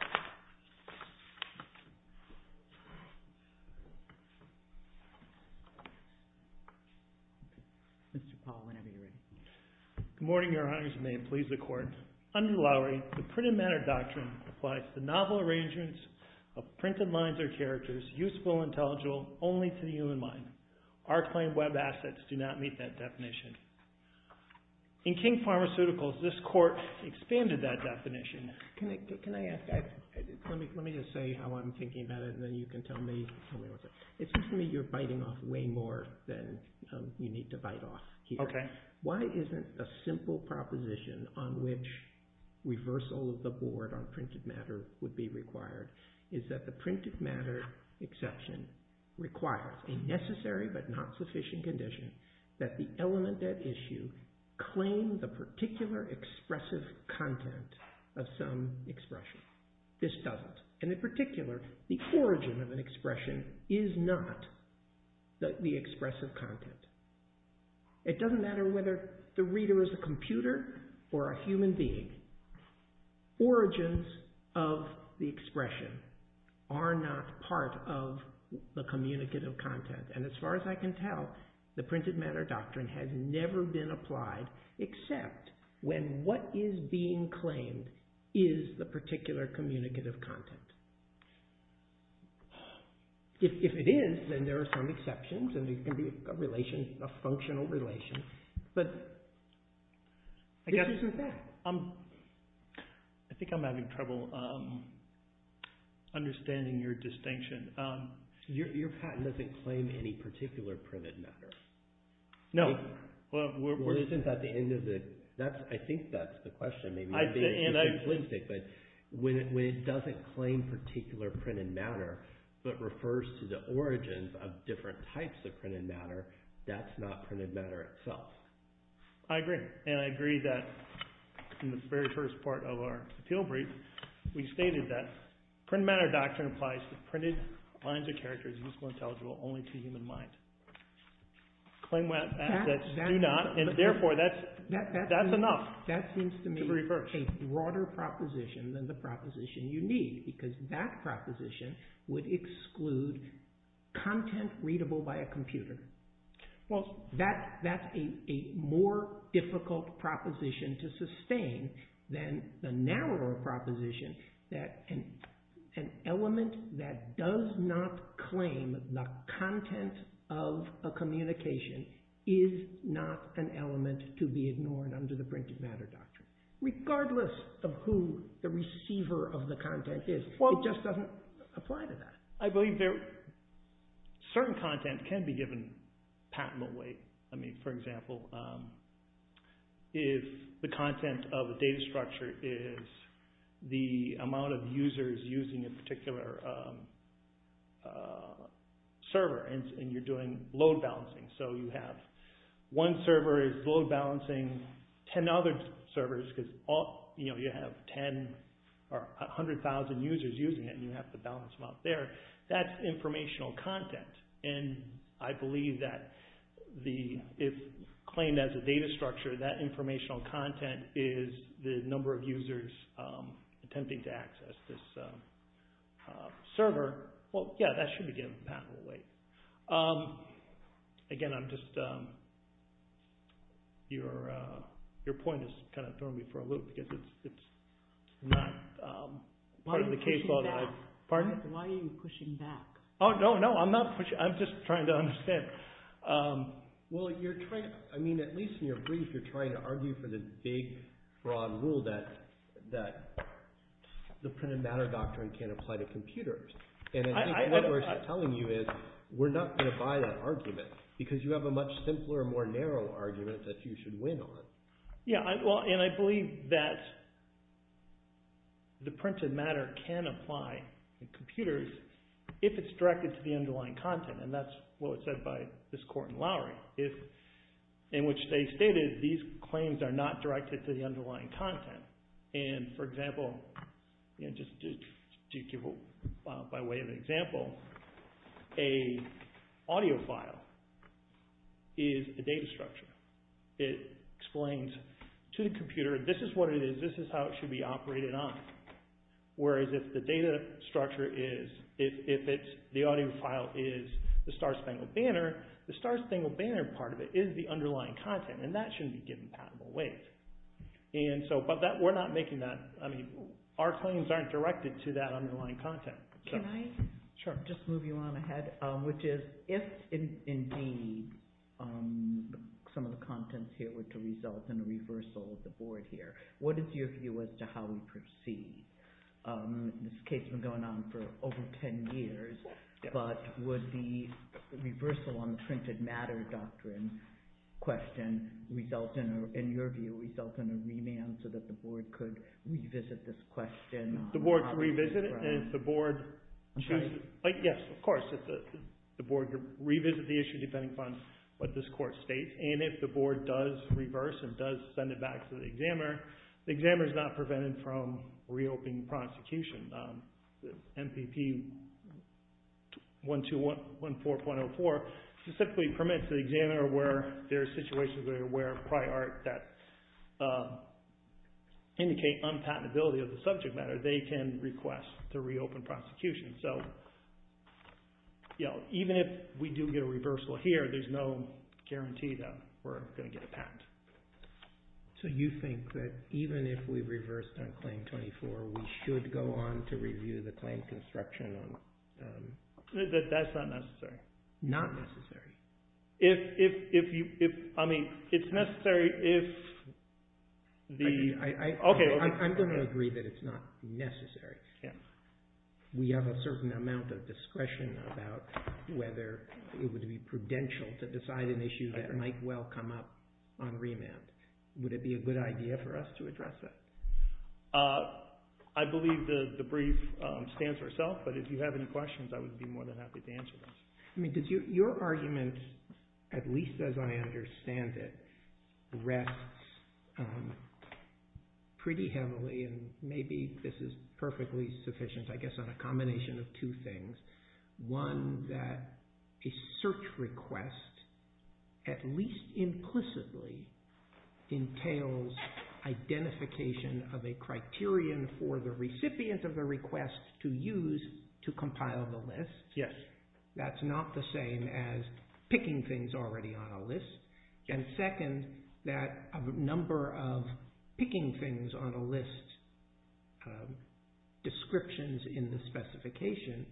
OK. Mr. Paul, whenever you're ready. Good morning, Your Honor. As you may please the court. Under the law, the printed matter doctrine applies to novel arrangements of printed lines or characters useful and intelligible only to the human mind. Our claimed web assets do not meet that definition. In King Pharmaceuticals, this court expanded that definition. Can I ask, let me just say how I'm thinking about it and then you can tell me. It seems to me you're biting off way more than you need to bite off here. OK. Why isn't a simple proposition on which reversal of the board on printed matter would be required is that the printed matter exception requires a necessary but not sufficient condition that the element at issue claim the particular expressive content of some expression. This doesn't. And in particular, the origin of an expression is not the expressive content. It doesn't matter whether the reader is a computer or a human being. Origins of the expression are not part of the communicative content. And as far as I can tell, the printed matter doctrine has never been applied except when what is being claimed is the particular communicative content. If it is, then there are some exceptions and there can be a relation, a functional relation. But this isn't that. I think I'm having trouble understanding your distinction. Your patent doesn't claim any particular printed matter. No. I think that's the question. But when it doesn't claim particular printed matter but refers to the origins of different types of printed matter, that's not printed matter itself. I agree. And I agree that in the very first part of our appeal brief, we stated that printed matter doctrine applies to printed lines of character that's useful and intelligible only to the human mind. Claimed assets do not. And therefore, that's enough. That seems to me a broader proposition than the proposition you need because that proposition would exclude content readable by a computer. Well, that's a more difficult proposition to sustain than the narrower proposition that an element that does not claim the content of a communication is not an element to be ignored under the printed matter doctrine. Regardless of who the receiver of the content is, it just doesn't apply to that. I believe certain content can be given patent away. I mean, for example, if the content of a data structure is the amount of users using a particular server and you're doing load balancing, so you have one server is load balancing 10 other servers because you have 10 or 100,000 users using it and you have to balance them out there, that's informational content. And I believe that if claimed as a data structure, that informational content is the number of users attempting to access this server. Well, yeah, that should be given patent away. Again, I'm just... Your point is kind of throwing me for a loop because it's not part of the case. Why are you pushing back? Oh, no, no, I'm not pushing. I'm just trying to understand. Well, you're trying... I mean, at least in your brief, you're trying to argue for the big, broad rule that the printed matter doctrine can't apply to computers. And what I'm telling you is we're not going to buy that argument because you have a much simpler and more narrow argument that you should win on. Yeah, well, and I believe that the printed matter can apply to computers if it's directed to the underlying content. And that's what was said by this court in Lowry, in which they stated these claims are not directed to the underlying content. And for example, just to give a way of example, a audio file is a data structure. It explains to the computer, this is what it is, this is how it should be operated on. Whereas if the data structure is, if it's the audio file is the Star-Spangled Banner, the Star-Spangled Banner part of it is the underlying content. And that shouldn't be given in patentable ways. And so, but we're not making that, I mean, our claims aren't directed to that underlying content. Can I? Sure. Just moving on ahead, which is if indeed on some of the contents here with the result and the reversal of the board here, what is your view as to how we proceed? This case has been going on for over 10 years, but was the reversal on the printed matter doctrine question result in, in your view, result in a rename so that the board could revisit this question? The board could revisit it and the board, yes, of course, the board could revisit the issue depending upon what this court states. And if the board does reverse and does send it back to the examiner, the examiner is not prevented from reopening prosecution. MPP 1214.04 specifically permits the examiner where there are situations where there probably aren't that indicate unpatentability of the subject matter, they can request to reopen prosecution. So, yeah, we do get a reversal here. There's no guarantee that we're going to get a patent. So you think that even if we reversed on claim 24, we should go on to review the claim construction? That's not necessary. Not necessary. If, if, if you, if, I mean, it's necessary, if the, okay. I'm going to agree that it's not necessary. We have a certain amount of discretion about whether it would be prudential to decide an issue that might well come up on remand. Would it be a good idea for us to address that? I believe the brief stands for itself, but if you have any questions, I would be more than happy to answer them. I mean, did you, your argument, at least as I understand it, rests pretty heavily and maybe this is perfectly sufficient, I guess, on a combination of two things. One, that a search request, at least implicitly, entails identification of a criterion for the recipient of the request to use to compile the list. Yes. That's not the same as And second, that a number of picking things on a list of descriptions in the specification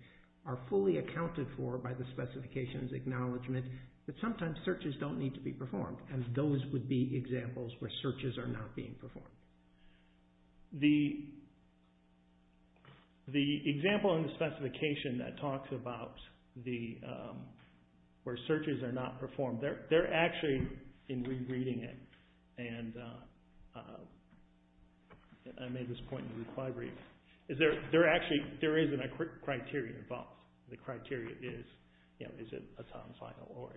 are fully accounted for by the specifications acknowledgement, but sometimes searches don't need to be performed and those would be examples where searches are not being performed. The example in the specification that talks about where searches are not performed, they're actually in re-reading it and I made this point in the recovery, is there actually, there isn't a criterion involved. The criteria is, you know, this is a sound file or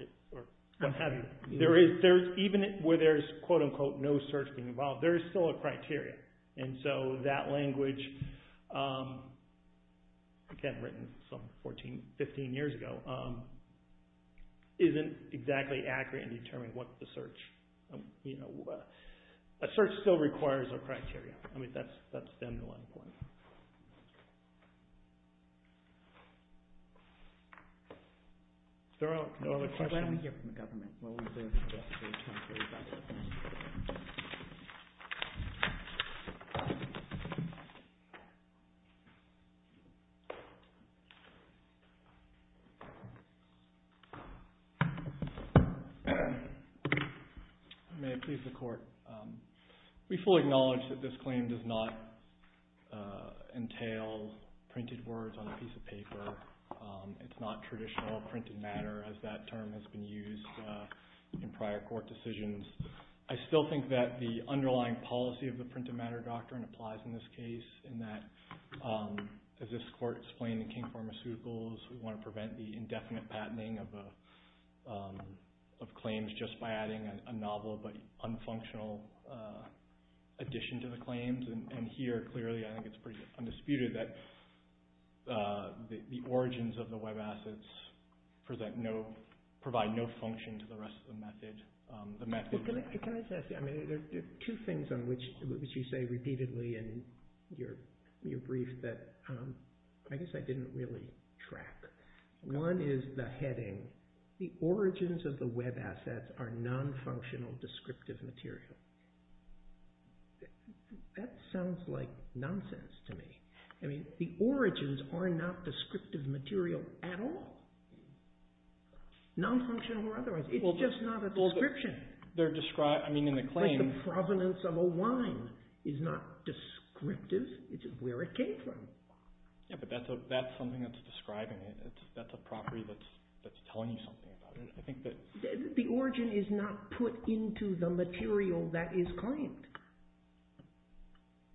I'm having, there is, even where there's quote unquote no search being involved, there is still a criteria and so that language, again, written some 14, 15 years ago, isn't exactly accurate in determining what the search, you know, a search still requires a criteria. I mean, that's been one. Is there another question? I'm here from the government. May I please the court? We fully acknowledge that this claim does not entail printed words on a piece of paper. It's not traditional printed matter as that term has been used in prior court decisions. I still think that the underlying policy of the printed matter doctrine applies in this case in that as this court explained in King Pharmaceuticals, we want to prevent the indefinite patenting of claims just by adding a novel but unfunctional addition to the claims. And here, clearly, I think it's pretty undisputed that the origins of the web assets provide no function to the rest of the method. Can I just ask you, I mean, there are two things on which you say repeatedly in your brief that I guess I didn't really track. One is the heading, the origins of the web assets are non-functional descriptive material. That sounds like nonsense to me. I mean, the origins are not descriptive material at all. Non-functional or otherwise. It's just not a description. They're described, I mean, in the claim. Like the provenance of a line is not descriptive. It is where it came from. Yeah, but that's something that's describing it. That's a property that's telling you something. I think that the origin is not put into the material that is claimed.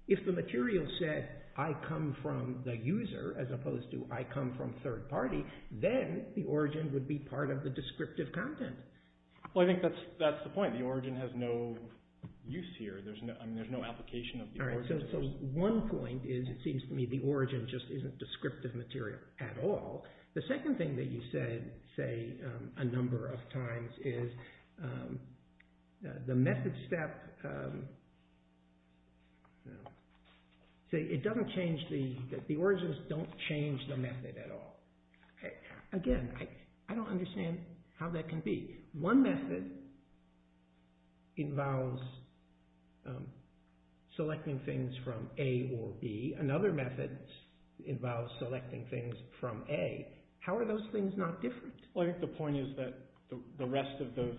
If the material said, I come from the user, as opposed to I come from third party, then the origin would be part of the descriptive content. Well, I think that's the point. The origin has no use here. There's no application. All right, so one point is it seems to me the origin just isn't descriptive material at all. The second thing that you said, say, a number of times is the method step, it doesn't change the, the origins don't change the method at all. Again, I don't understand how that can be. One method involves selecting things from A or B. Another method involves selecting things from A. How are those things not different? Well, I think the point is that the rest of the,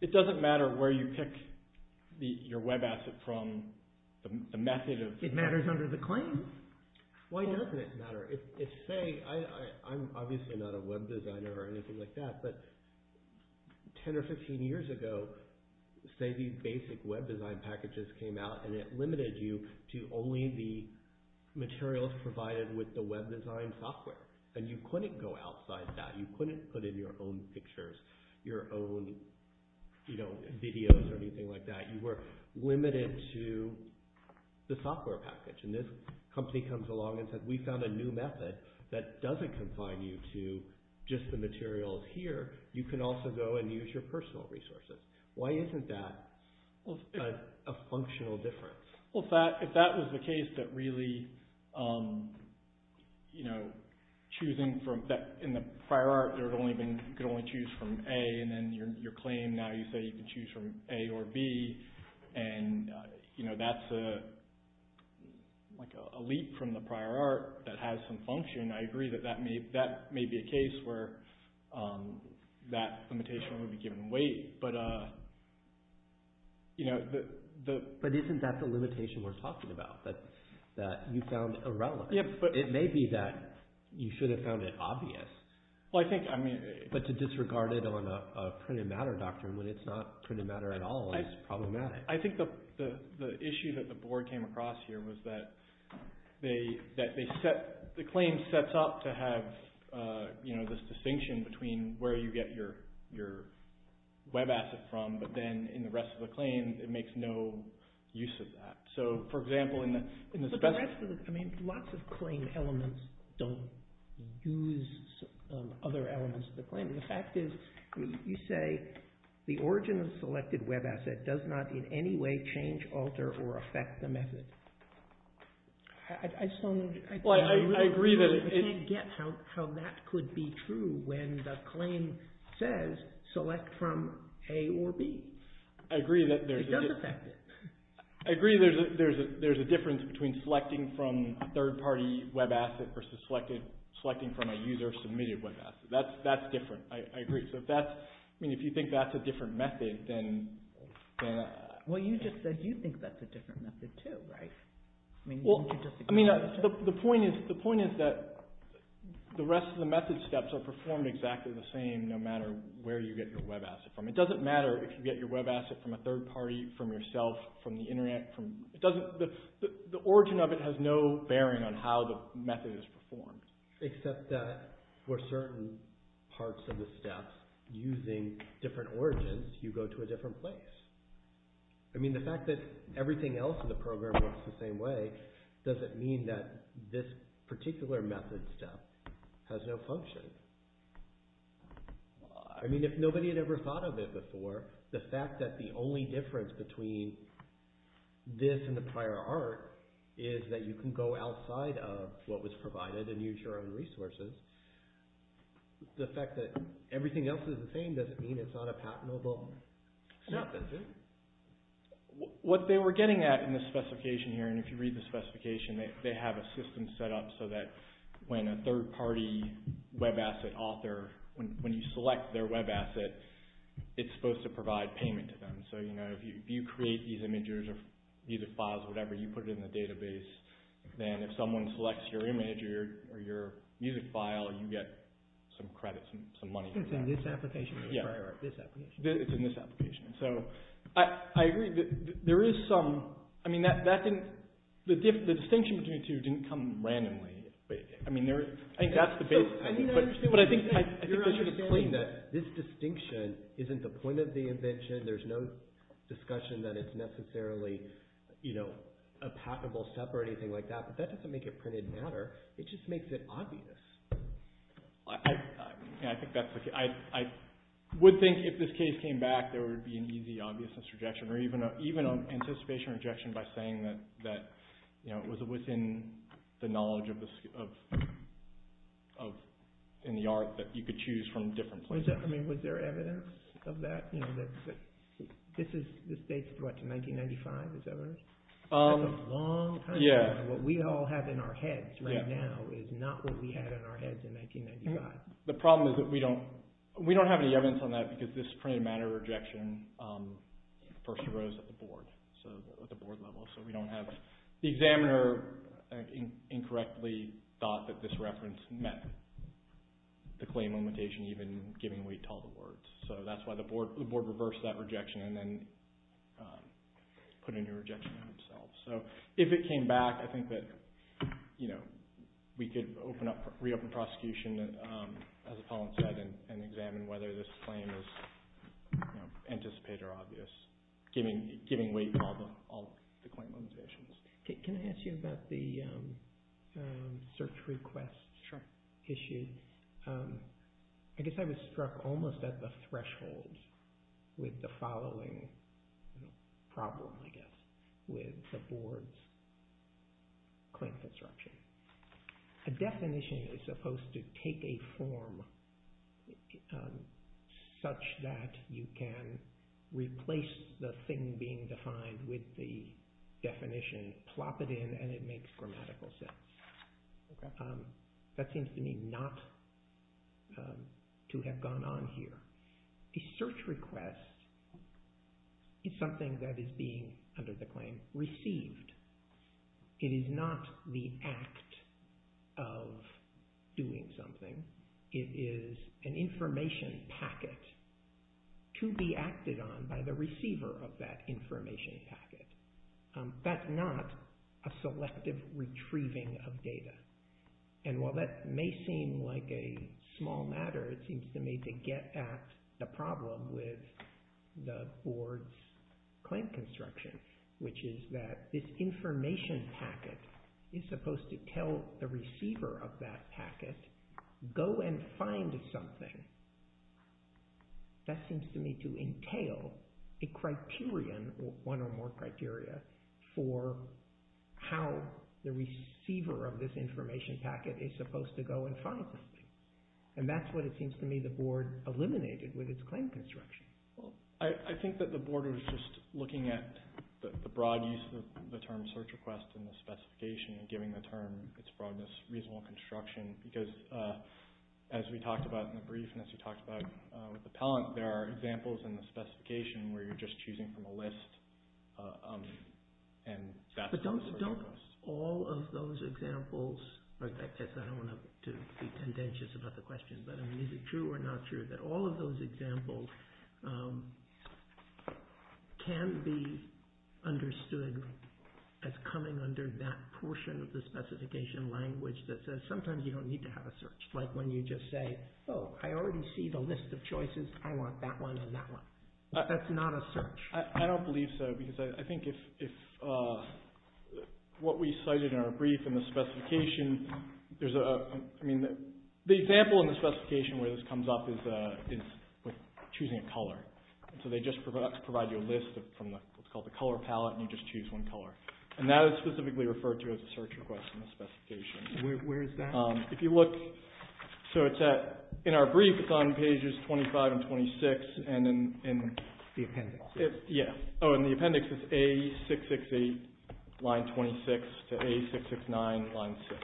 it doesn't matter where you pick your web asset from, the method. It matters under the claims. Why doesn't it matter? If, say, I'm obviously not a web designer or anything like that, but 10 or 15 years ago, say these basic web design packages came out and it limited you to only the materials provided with the web design software, and you couldn't go outside that. You couldn't put in your own pictures, your own, you know, videos or anything like that. You were limited to the software package. And this company comes along and says, we found a new method that doesn't confine you to just the materials here. You can also go and use your personal resources. Why isn't that a functional difference? Well, if that was the case, that really, you know, choosing from that, in the prior art, you could only choose from A, and then your claim, now you say you can choose from A or B. And, you know, that's a leap from the prior art that has some function. I agree that that may be a case where that limitation would be given weight. But, you know, the... But do you think that's the limitation we're talking about? That you found irrelevant. It may be that you should have found it obvious. Well, I think, I mean... But to disregard it on a printed matter doctrine when it's not printed matter at all is problematic. I think the issue that the board came across here was that the claim sets up to have, you know, this distinction between where you get your web asset from, but then in the rest of the claim, it makes no use of that. So, for example, in the... But that's for the... I mean, lots of claim elements don't use other elements of the claim. And the fact is, you say the origin of the selected web asset does not in any way change, alter, or affect the method. I just want to... Well, I agree that... You can't get how that could be true when the claim says select from A or B. I agree that there's... It does affect it. I agree there's a difference between selecting from a third-party web asset versus selecting from a user-submitted web asset. That's different. I agree. So if that's... I mean, if you think that's a different method, then... Well, you just said you think that's a different method, too, right? Well, I mean, the point is that the rest of the method steps will perform exactly the same, no matter where you get your web asset from. It doesn't matter if you get your web asset from a third party, from yourself, from the internet. The origin of it has no bearing on how the method is performed. Except that for certain parts of the steps, using different origins, you go to a different place. I mean, the fact that everything else in the program works the same way doesn't mean that this particular method step has no function. I mean, if nobody had ever thought of it before, the fact that the only difference between this and the prior art is that you can go outside of what was provided and use your own resources. The fact that everything else is the same doesn't mean it's not a patentable step, does it? What they were getting at in the specification here, and if you read the specification, they have a system set up so that when a third party web asset author, when you select their web asset, it's supposed to provide payment to them. So if you create these images or these files or whatever, you put it in the database, then if someone selects your image or your music file, you get some credits and some money. It's in this application? Yeah. It's in this application. So I agree. There is some... I mean, the distinction between the two didn't come randomly. I mean, I think that's the basis. But I think this distinction isn't the point of the invention. There's no discussion that it's necessarily a patentable step or anything like that. But that doesn't make it printed matter. It just makes it obvious. Yeah, I think that's the thing. I would think if this case came back, there would be an easy obviousness rejection or even an anticipation rejection by saying that it was within the knowledge and the art that you could choose from different places. I mean, was there evidence of that? This is, this dates to what, to 1995? Is that right? That's a long time. Yeah. What we all have in our heads right now is not what we had in our heads in 1995. The problem is that we don't... We don't have any evidence on that because this printed matter rejection first arose at the board. So at the board level. So we don't have... The examiner incorrectly thought that this reference met the claim limitation even given we told the words. So that's why the board reversed that rejection and then put in a rejection themselves. So if it came back, I think that, you know, we could open up, reopen prosecution as Colin said, and examine whether this claim is anticipated or obvious, giving weight to all the claim limitations. Can I ask you about the search request issues? I guess I was struck almost at the threshold with the following problem, I guess, with the board's claim construction. A definition is supposed to take a form such that you can replace the thing being defined with the definition, plop it in and it makes grammatical sense. That seems to me not to have gone on here. A search request is something that is being, under the claim, received. It is not the act of doing something. It is an information packet to be acted on by the receiver of that information packet. That's not a selective retrieving of data. And while that may seem like a small matter, it seems to me to get at the problem with the board's claim construction, which is that this information packet is supposed to tell the receiver of that packet, go and find something. That seems to me to entail a criterion, one or more criteria, for how the receiver of this information packet is supposed to go and find something. And that's what it seems to me the board eliminated with its claim construction. I think that the board was just looking at the broad use of the term search request and the specification and giving the term its broadness, reasonable construction, because as we talked about in the brief and as we talked about with the Pellant, there are examples in the specification where you're just choosing from a list. All of those examples, I don't want to be contentious about the question, but is it true or not true that all of those examples can be understood as coming under that portion of the specification language that says sometimes you don't need to have a search, like when you just say, oh, I already see the list of choices. I want that one and that one. That's not a search. I don't believe so, because I think if what we cited in our brief in the specification, the example in the specification where this comes up is choosing a color. So they just provide you a list from what's called the color palette and you just choose one color. And that is specifically referred to as a search request in the specification. If you look, so in our brief, it's on pages 25 and 26, and then in the appendix, it's A668 line 26 to A669 line 6.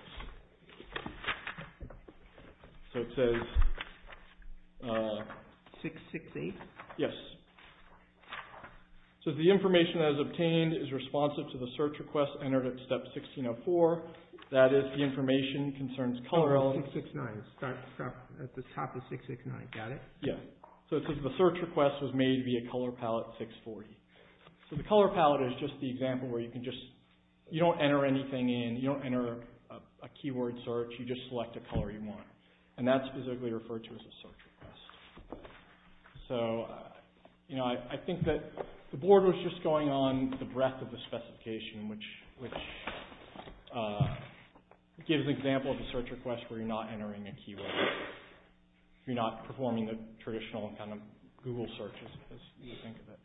So it says, 668? Yes. So the information that is obtained is responsive to the search request entered at step 1604. That is the information concerns color elements. 669, at the top of 669, got it? Yes. So it says the search request was made via color palette 640. So the color palette is just the example where you can just, you don't enter anything in, you don't enter a keyword search, you just select a color you want. And that's specifically referred to as a search request. So I think that the board was just going on the breadth of the specification, which gives an example of a search request where you're not entering a keyword. You're not performing the traditional kind of Google searches as you think of it.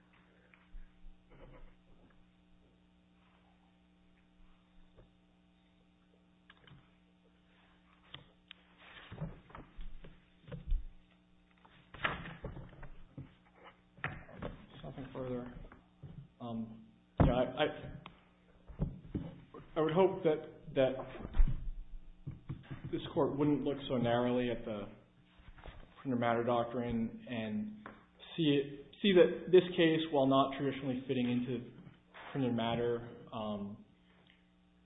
I would hope that this court wouldn't look so narrowly at the Printer Matter Doctrine and see that this case, while not traditionally fitting to Printer Matter,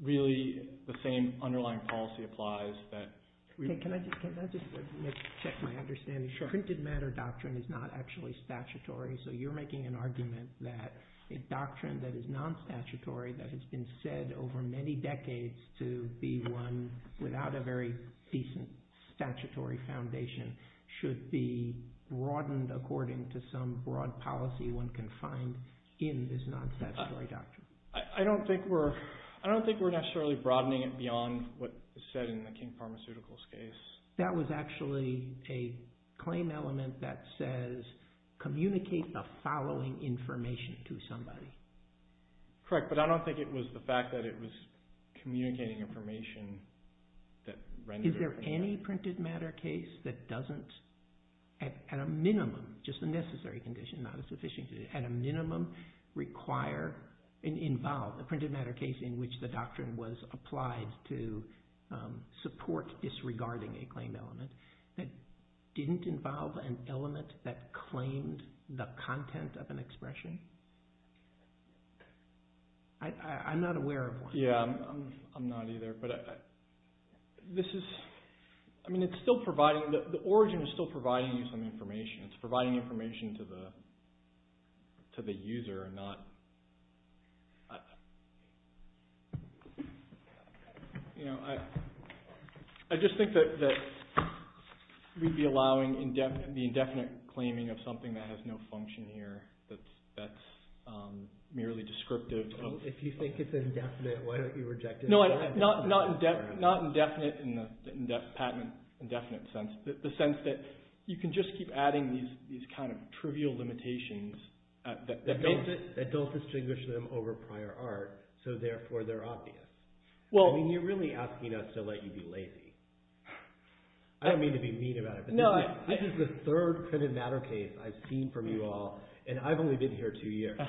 really the same underlying policy applies that... Can I just make my understanding? Sure. Printed Matter Doctrine is not actually statutory. So you're making an argument that a doctrine that is not statutory, that has been said over many decades to be one without a very decent statutory foundation should be broadened according to some broad policy one can find in this non-statutory doctrine. I don't think we're necessarily broadening it beyond what is said in the King Pharmaceuticals case. That was actually a claim element that says communicate the following information to somebody. Correct. But I don't think it was the fact that it was communicating information that rendered... Is there any Printed Matter case that doesn't, at a minimum, just a necessary condition, at a minimum, require and involve a Printed Matter case in which the doctrine was applied to support disregarding a claimed element that didn't involve an element that claimed the content of an expression? I'm not aware of one. Yeah, I'm not either. But this is... I mean, it's still providing... The origin is still providing you some information. It's providing information to the user and not... You know, I just think that we'd be allowing the indefinite claiming of something that has no function here. That's merely descriptive. If you say it's indefinite, why don't you reject it? No, not indefinite in the patent indefinite sense. The sense that you can just keep adding these kind of trivial limitations that don't distinguish them over prior art, so therefore they're obvious. Well, I mean, you're really asking us to let you be lazy. I don't mean to be mean about it, but this is the third Printed Matter case I've seen from you all, and I've only been here two years,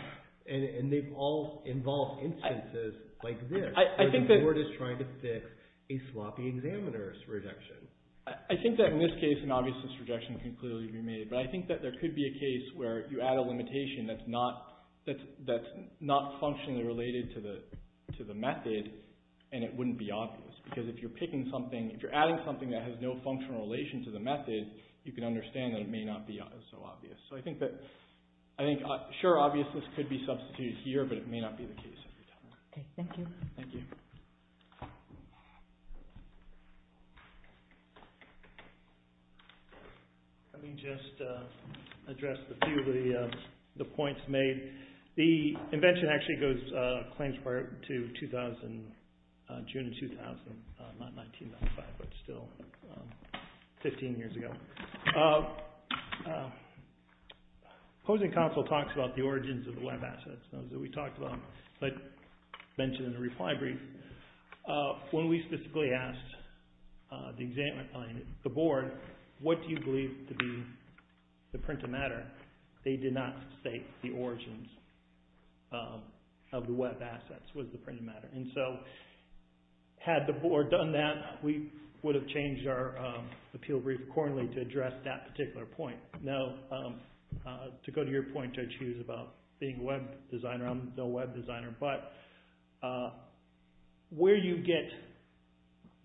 and they've all involved instances like this. So you're just trying to fix a sloppy examiner's rejection. I think that in this case, an obviousness rejection can clearly be made, but I think that there could be a case where you add a limitation that's not functionally related to the method, and it wouldn't be obvious, because if you're picking something, if you're adding something that has no functional relation to the method, you can understand that it may not be so obvious. So I think sure, obviousness could be substituted here, but it may not be the case. OK, thank you. Thank you. Let me just address a few of the points made. The invention actually goes, claims part, to 2000, June 2000, not 1995, but still 15 years ago. Opposing Consul talks about the origins of the web assets, those that we talked about, but mentioned in the reply brief. When we specifically asked the board, what do you believe to be the print of matter? They did not state the origins of the web assets was the print of matter. And so had the board done that, we would have changed our appeal brief accordingly to address that particular point. Now, to go to your point, to choose about being a web designer, I'm no web designer, but where you get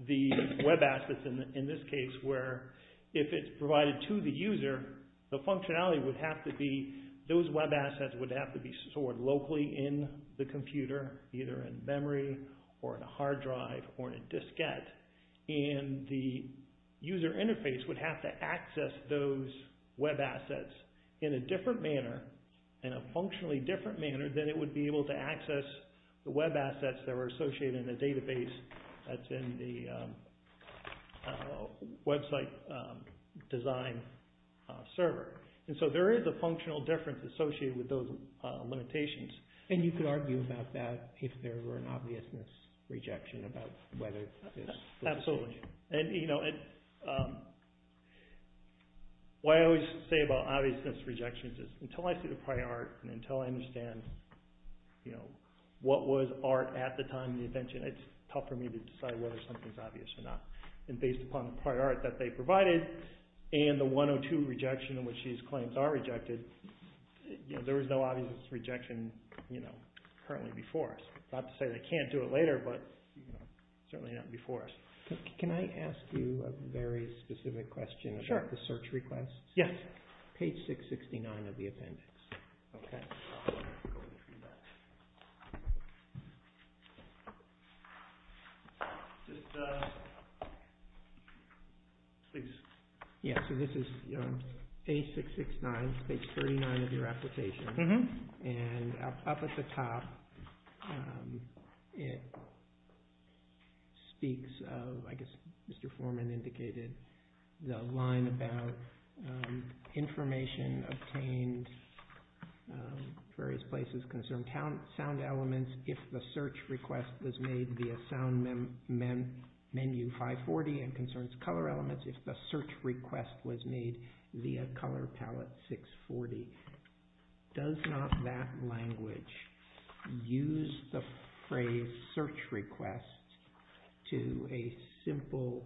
the web assets, in this case, where if it's provided to the user, the functionality would have to be, those web assets would have to be stored locally in the computer, either in memory or in a hard drive or in a diskette. And the user interface would have to access those web assets in a different manner, in a functionally different manner than it would be able to access the web assets that were associated in the database that's in the website design server. And so there is a functional difference associated with those limitations. And you could argue about that if there were an obviousness rejection about whether it is. Absolutely. What I always say about obviousness rejections is until I see the prior art and until I understand what was art at the time of the attention, it's tough for me to decide whether something's obvious or not. And based upon the prior art that they provided and the 102 rejection in which these claims are rejected, there is no obvious rejection currently before us. Not to say they can't do it later, but certainly not before us. Can I ask you a very specific question about the search requests? Yes. Page 669 of the appendix. So this is page 669, page 39 of your application. And up at the top, it speaks of, I guess Mr. Foreman indicated, the line about information obtained of various places concerning sound elements if the search request was made via sound menu 540 and concerns color elements if the search request was made via color palette 640. Does not that language use the phrase search requests to a simple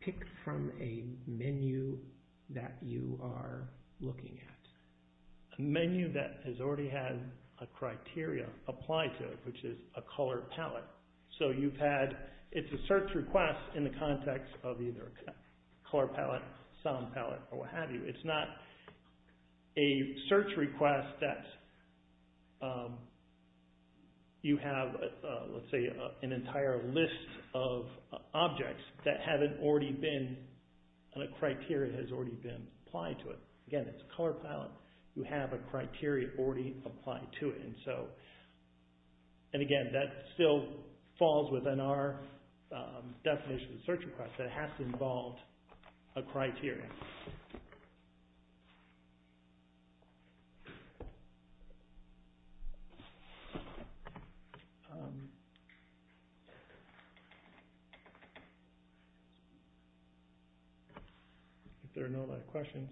pick from a menu that you are looking at? A menu that has already had a criteria applied to it, which is a color palette. So you've had, it's a search request in the context of either color palette, sound palette, or what have you. It's not a search request that you have, let's say, an entire list of objects that haven't already been, and a criteria has already been applied to it. Again, it's a color palette. You have a criteria already applied to it. And so, and again, that still falls within our definition of search request. That has to involve a criteria. If there are no other questions, thank you.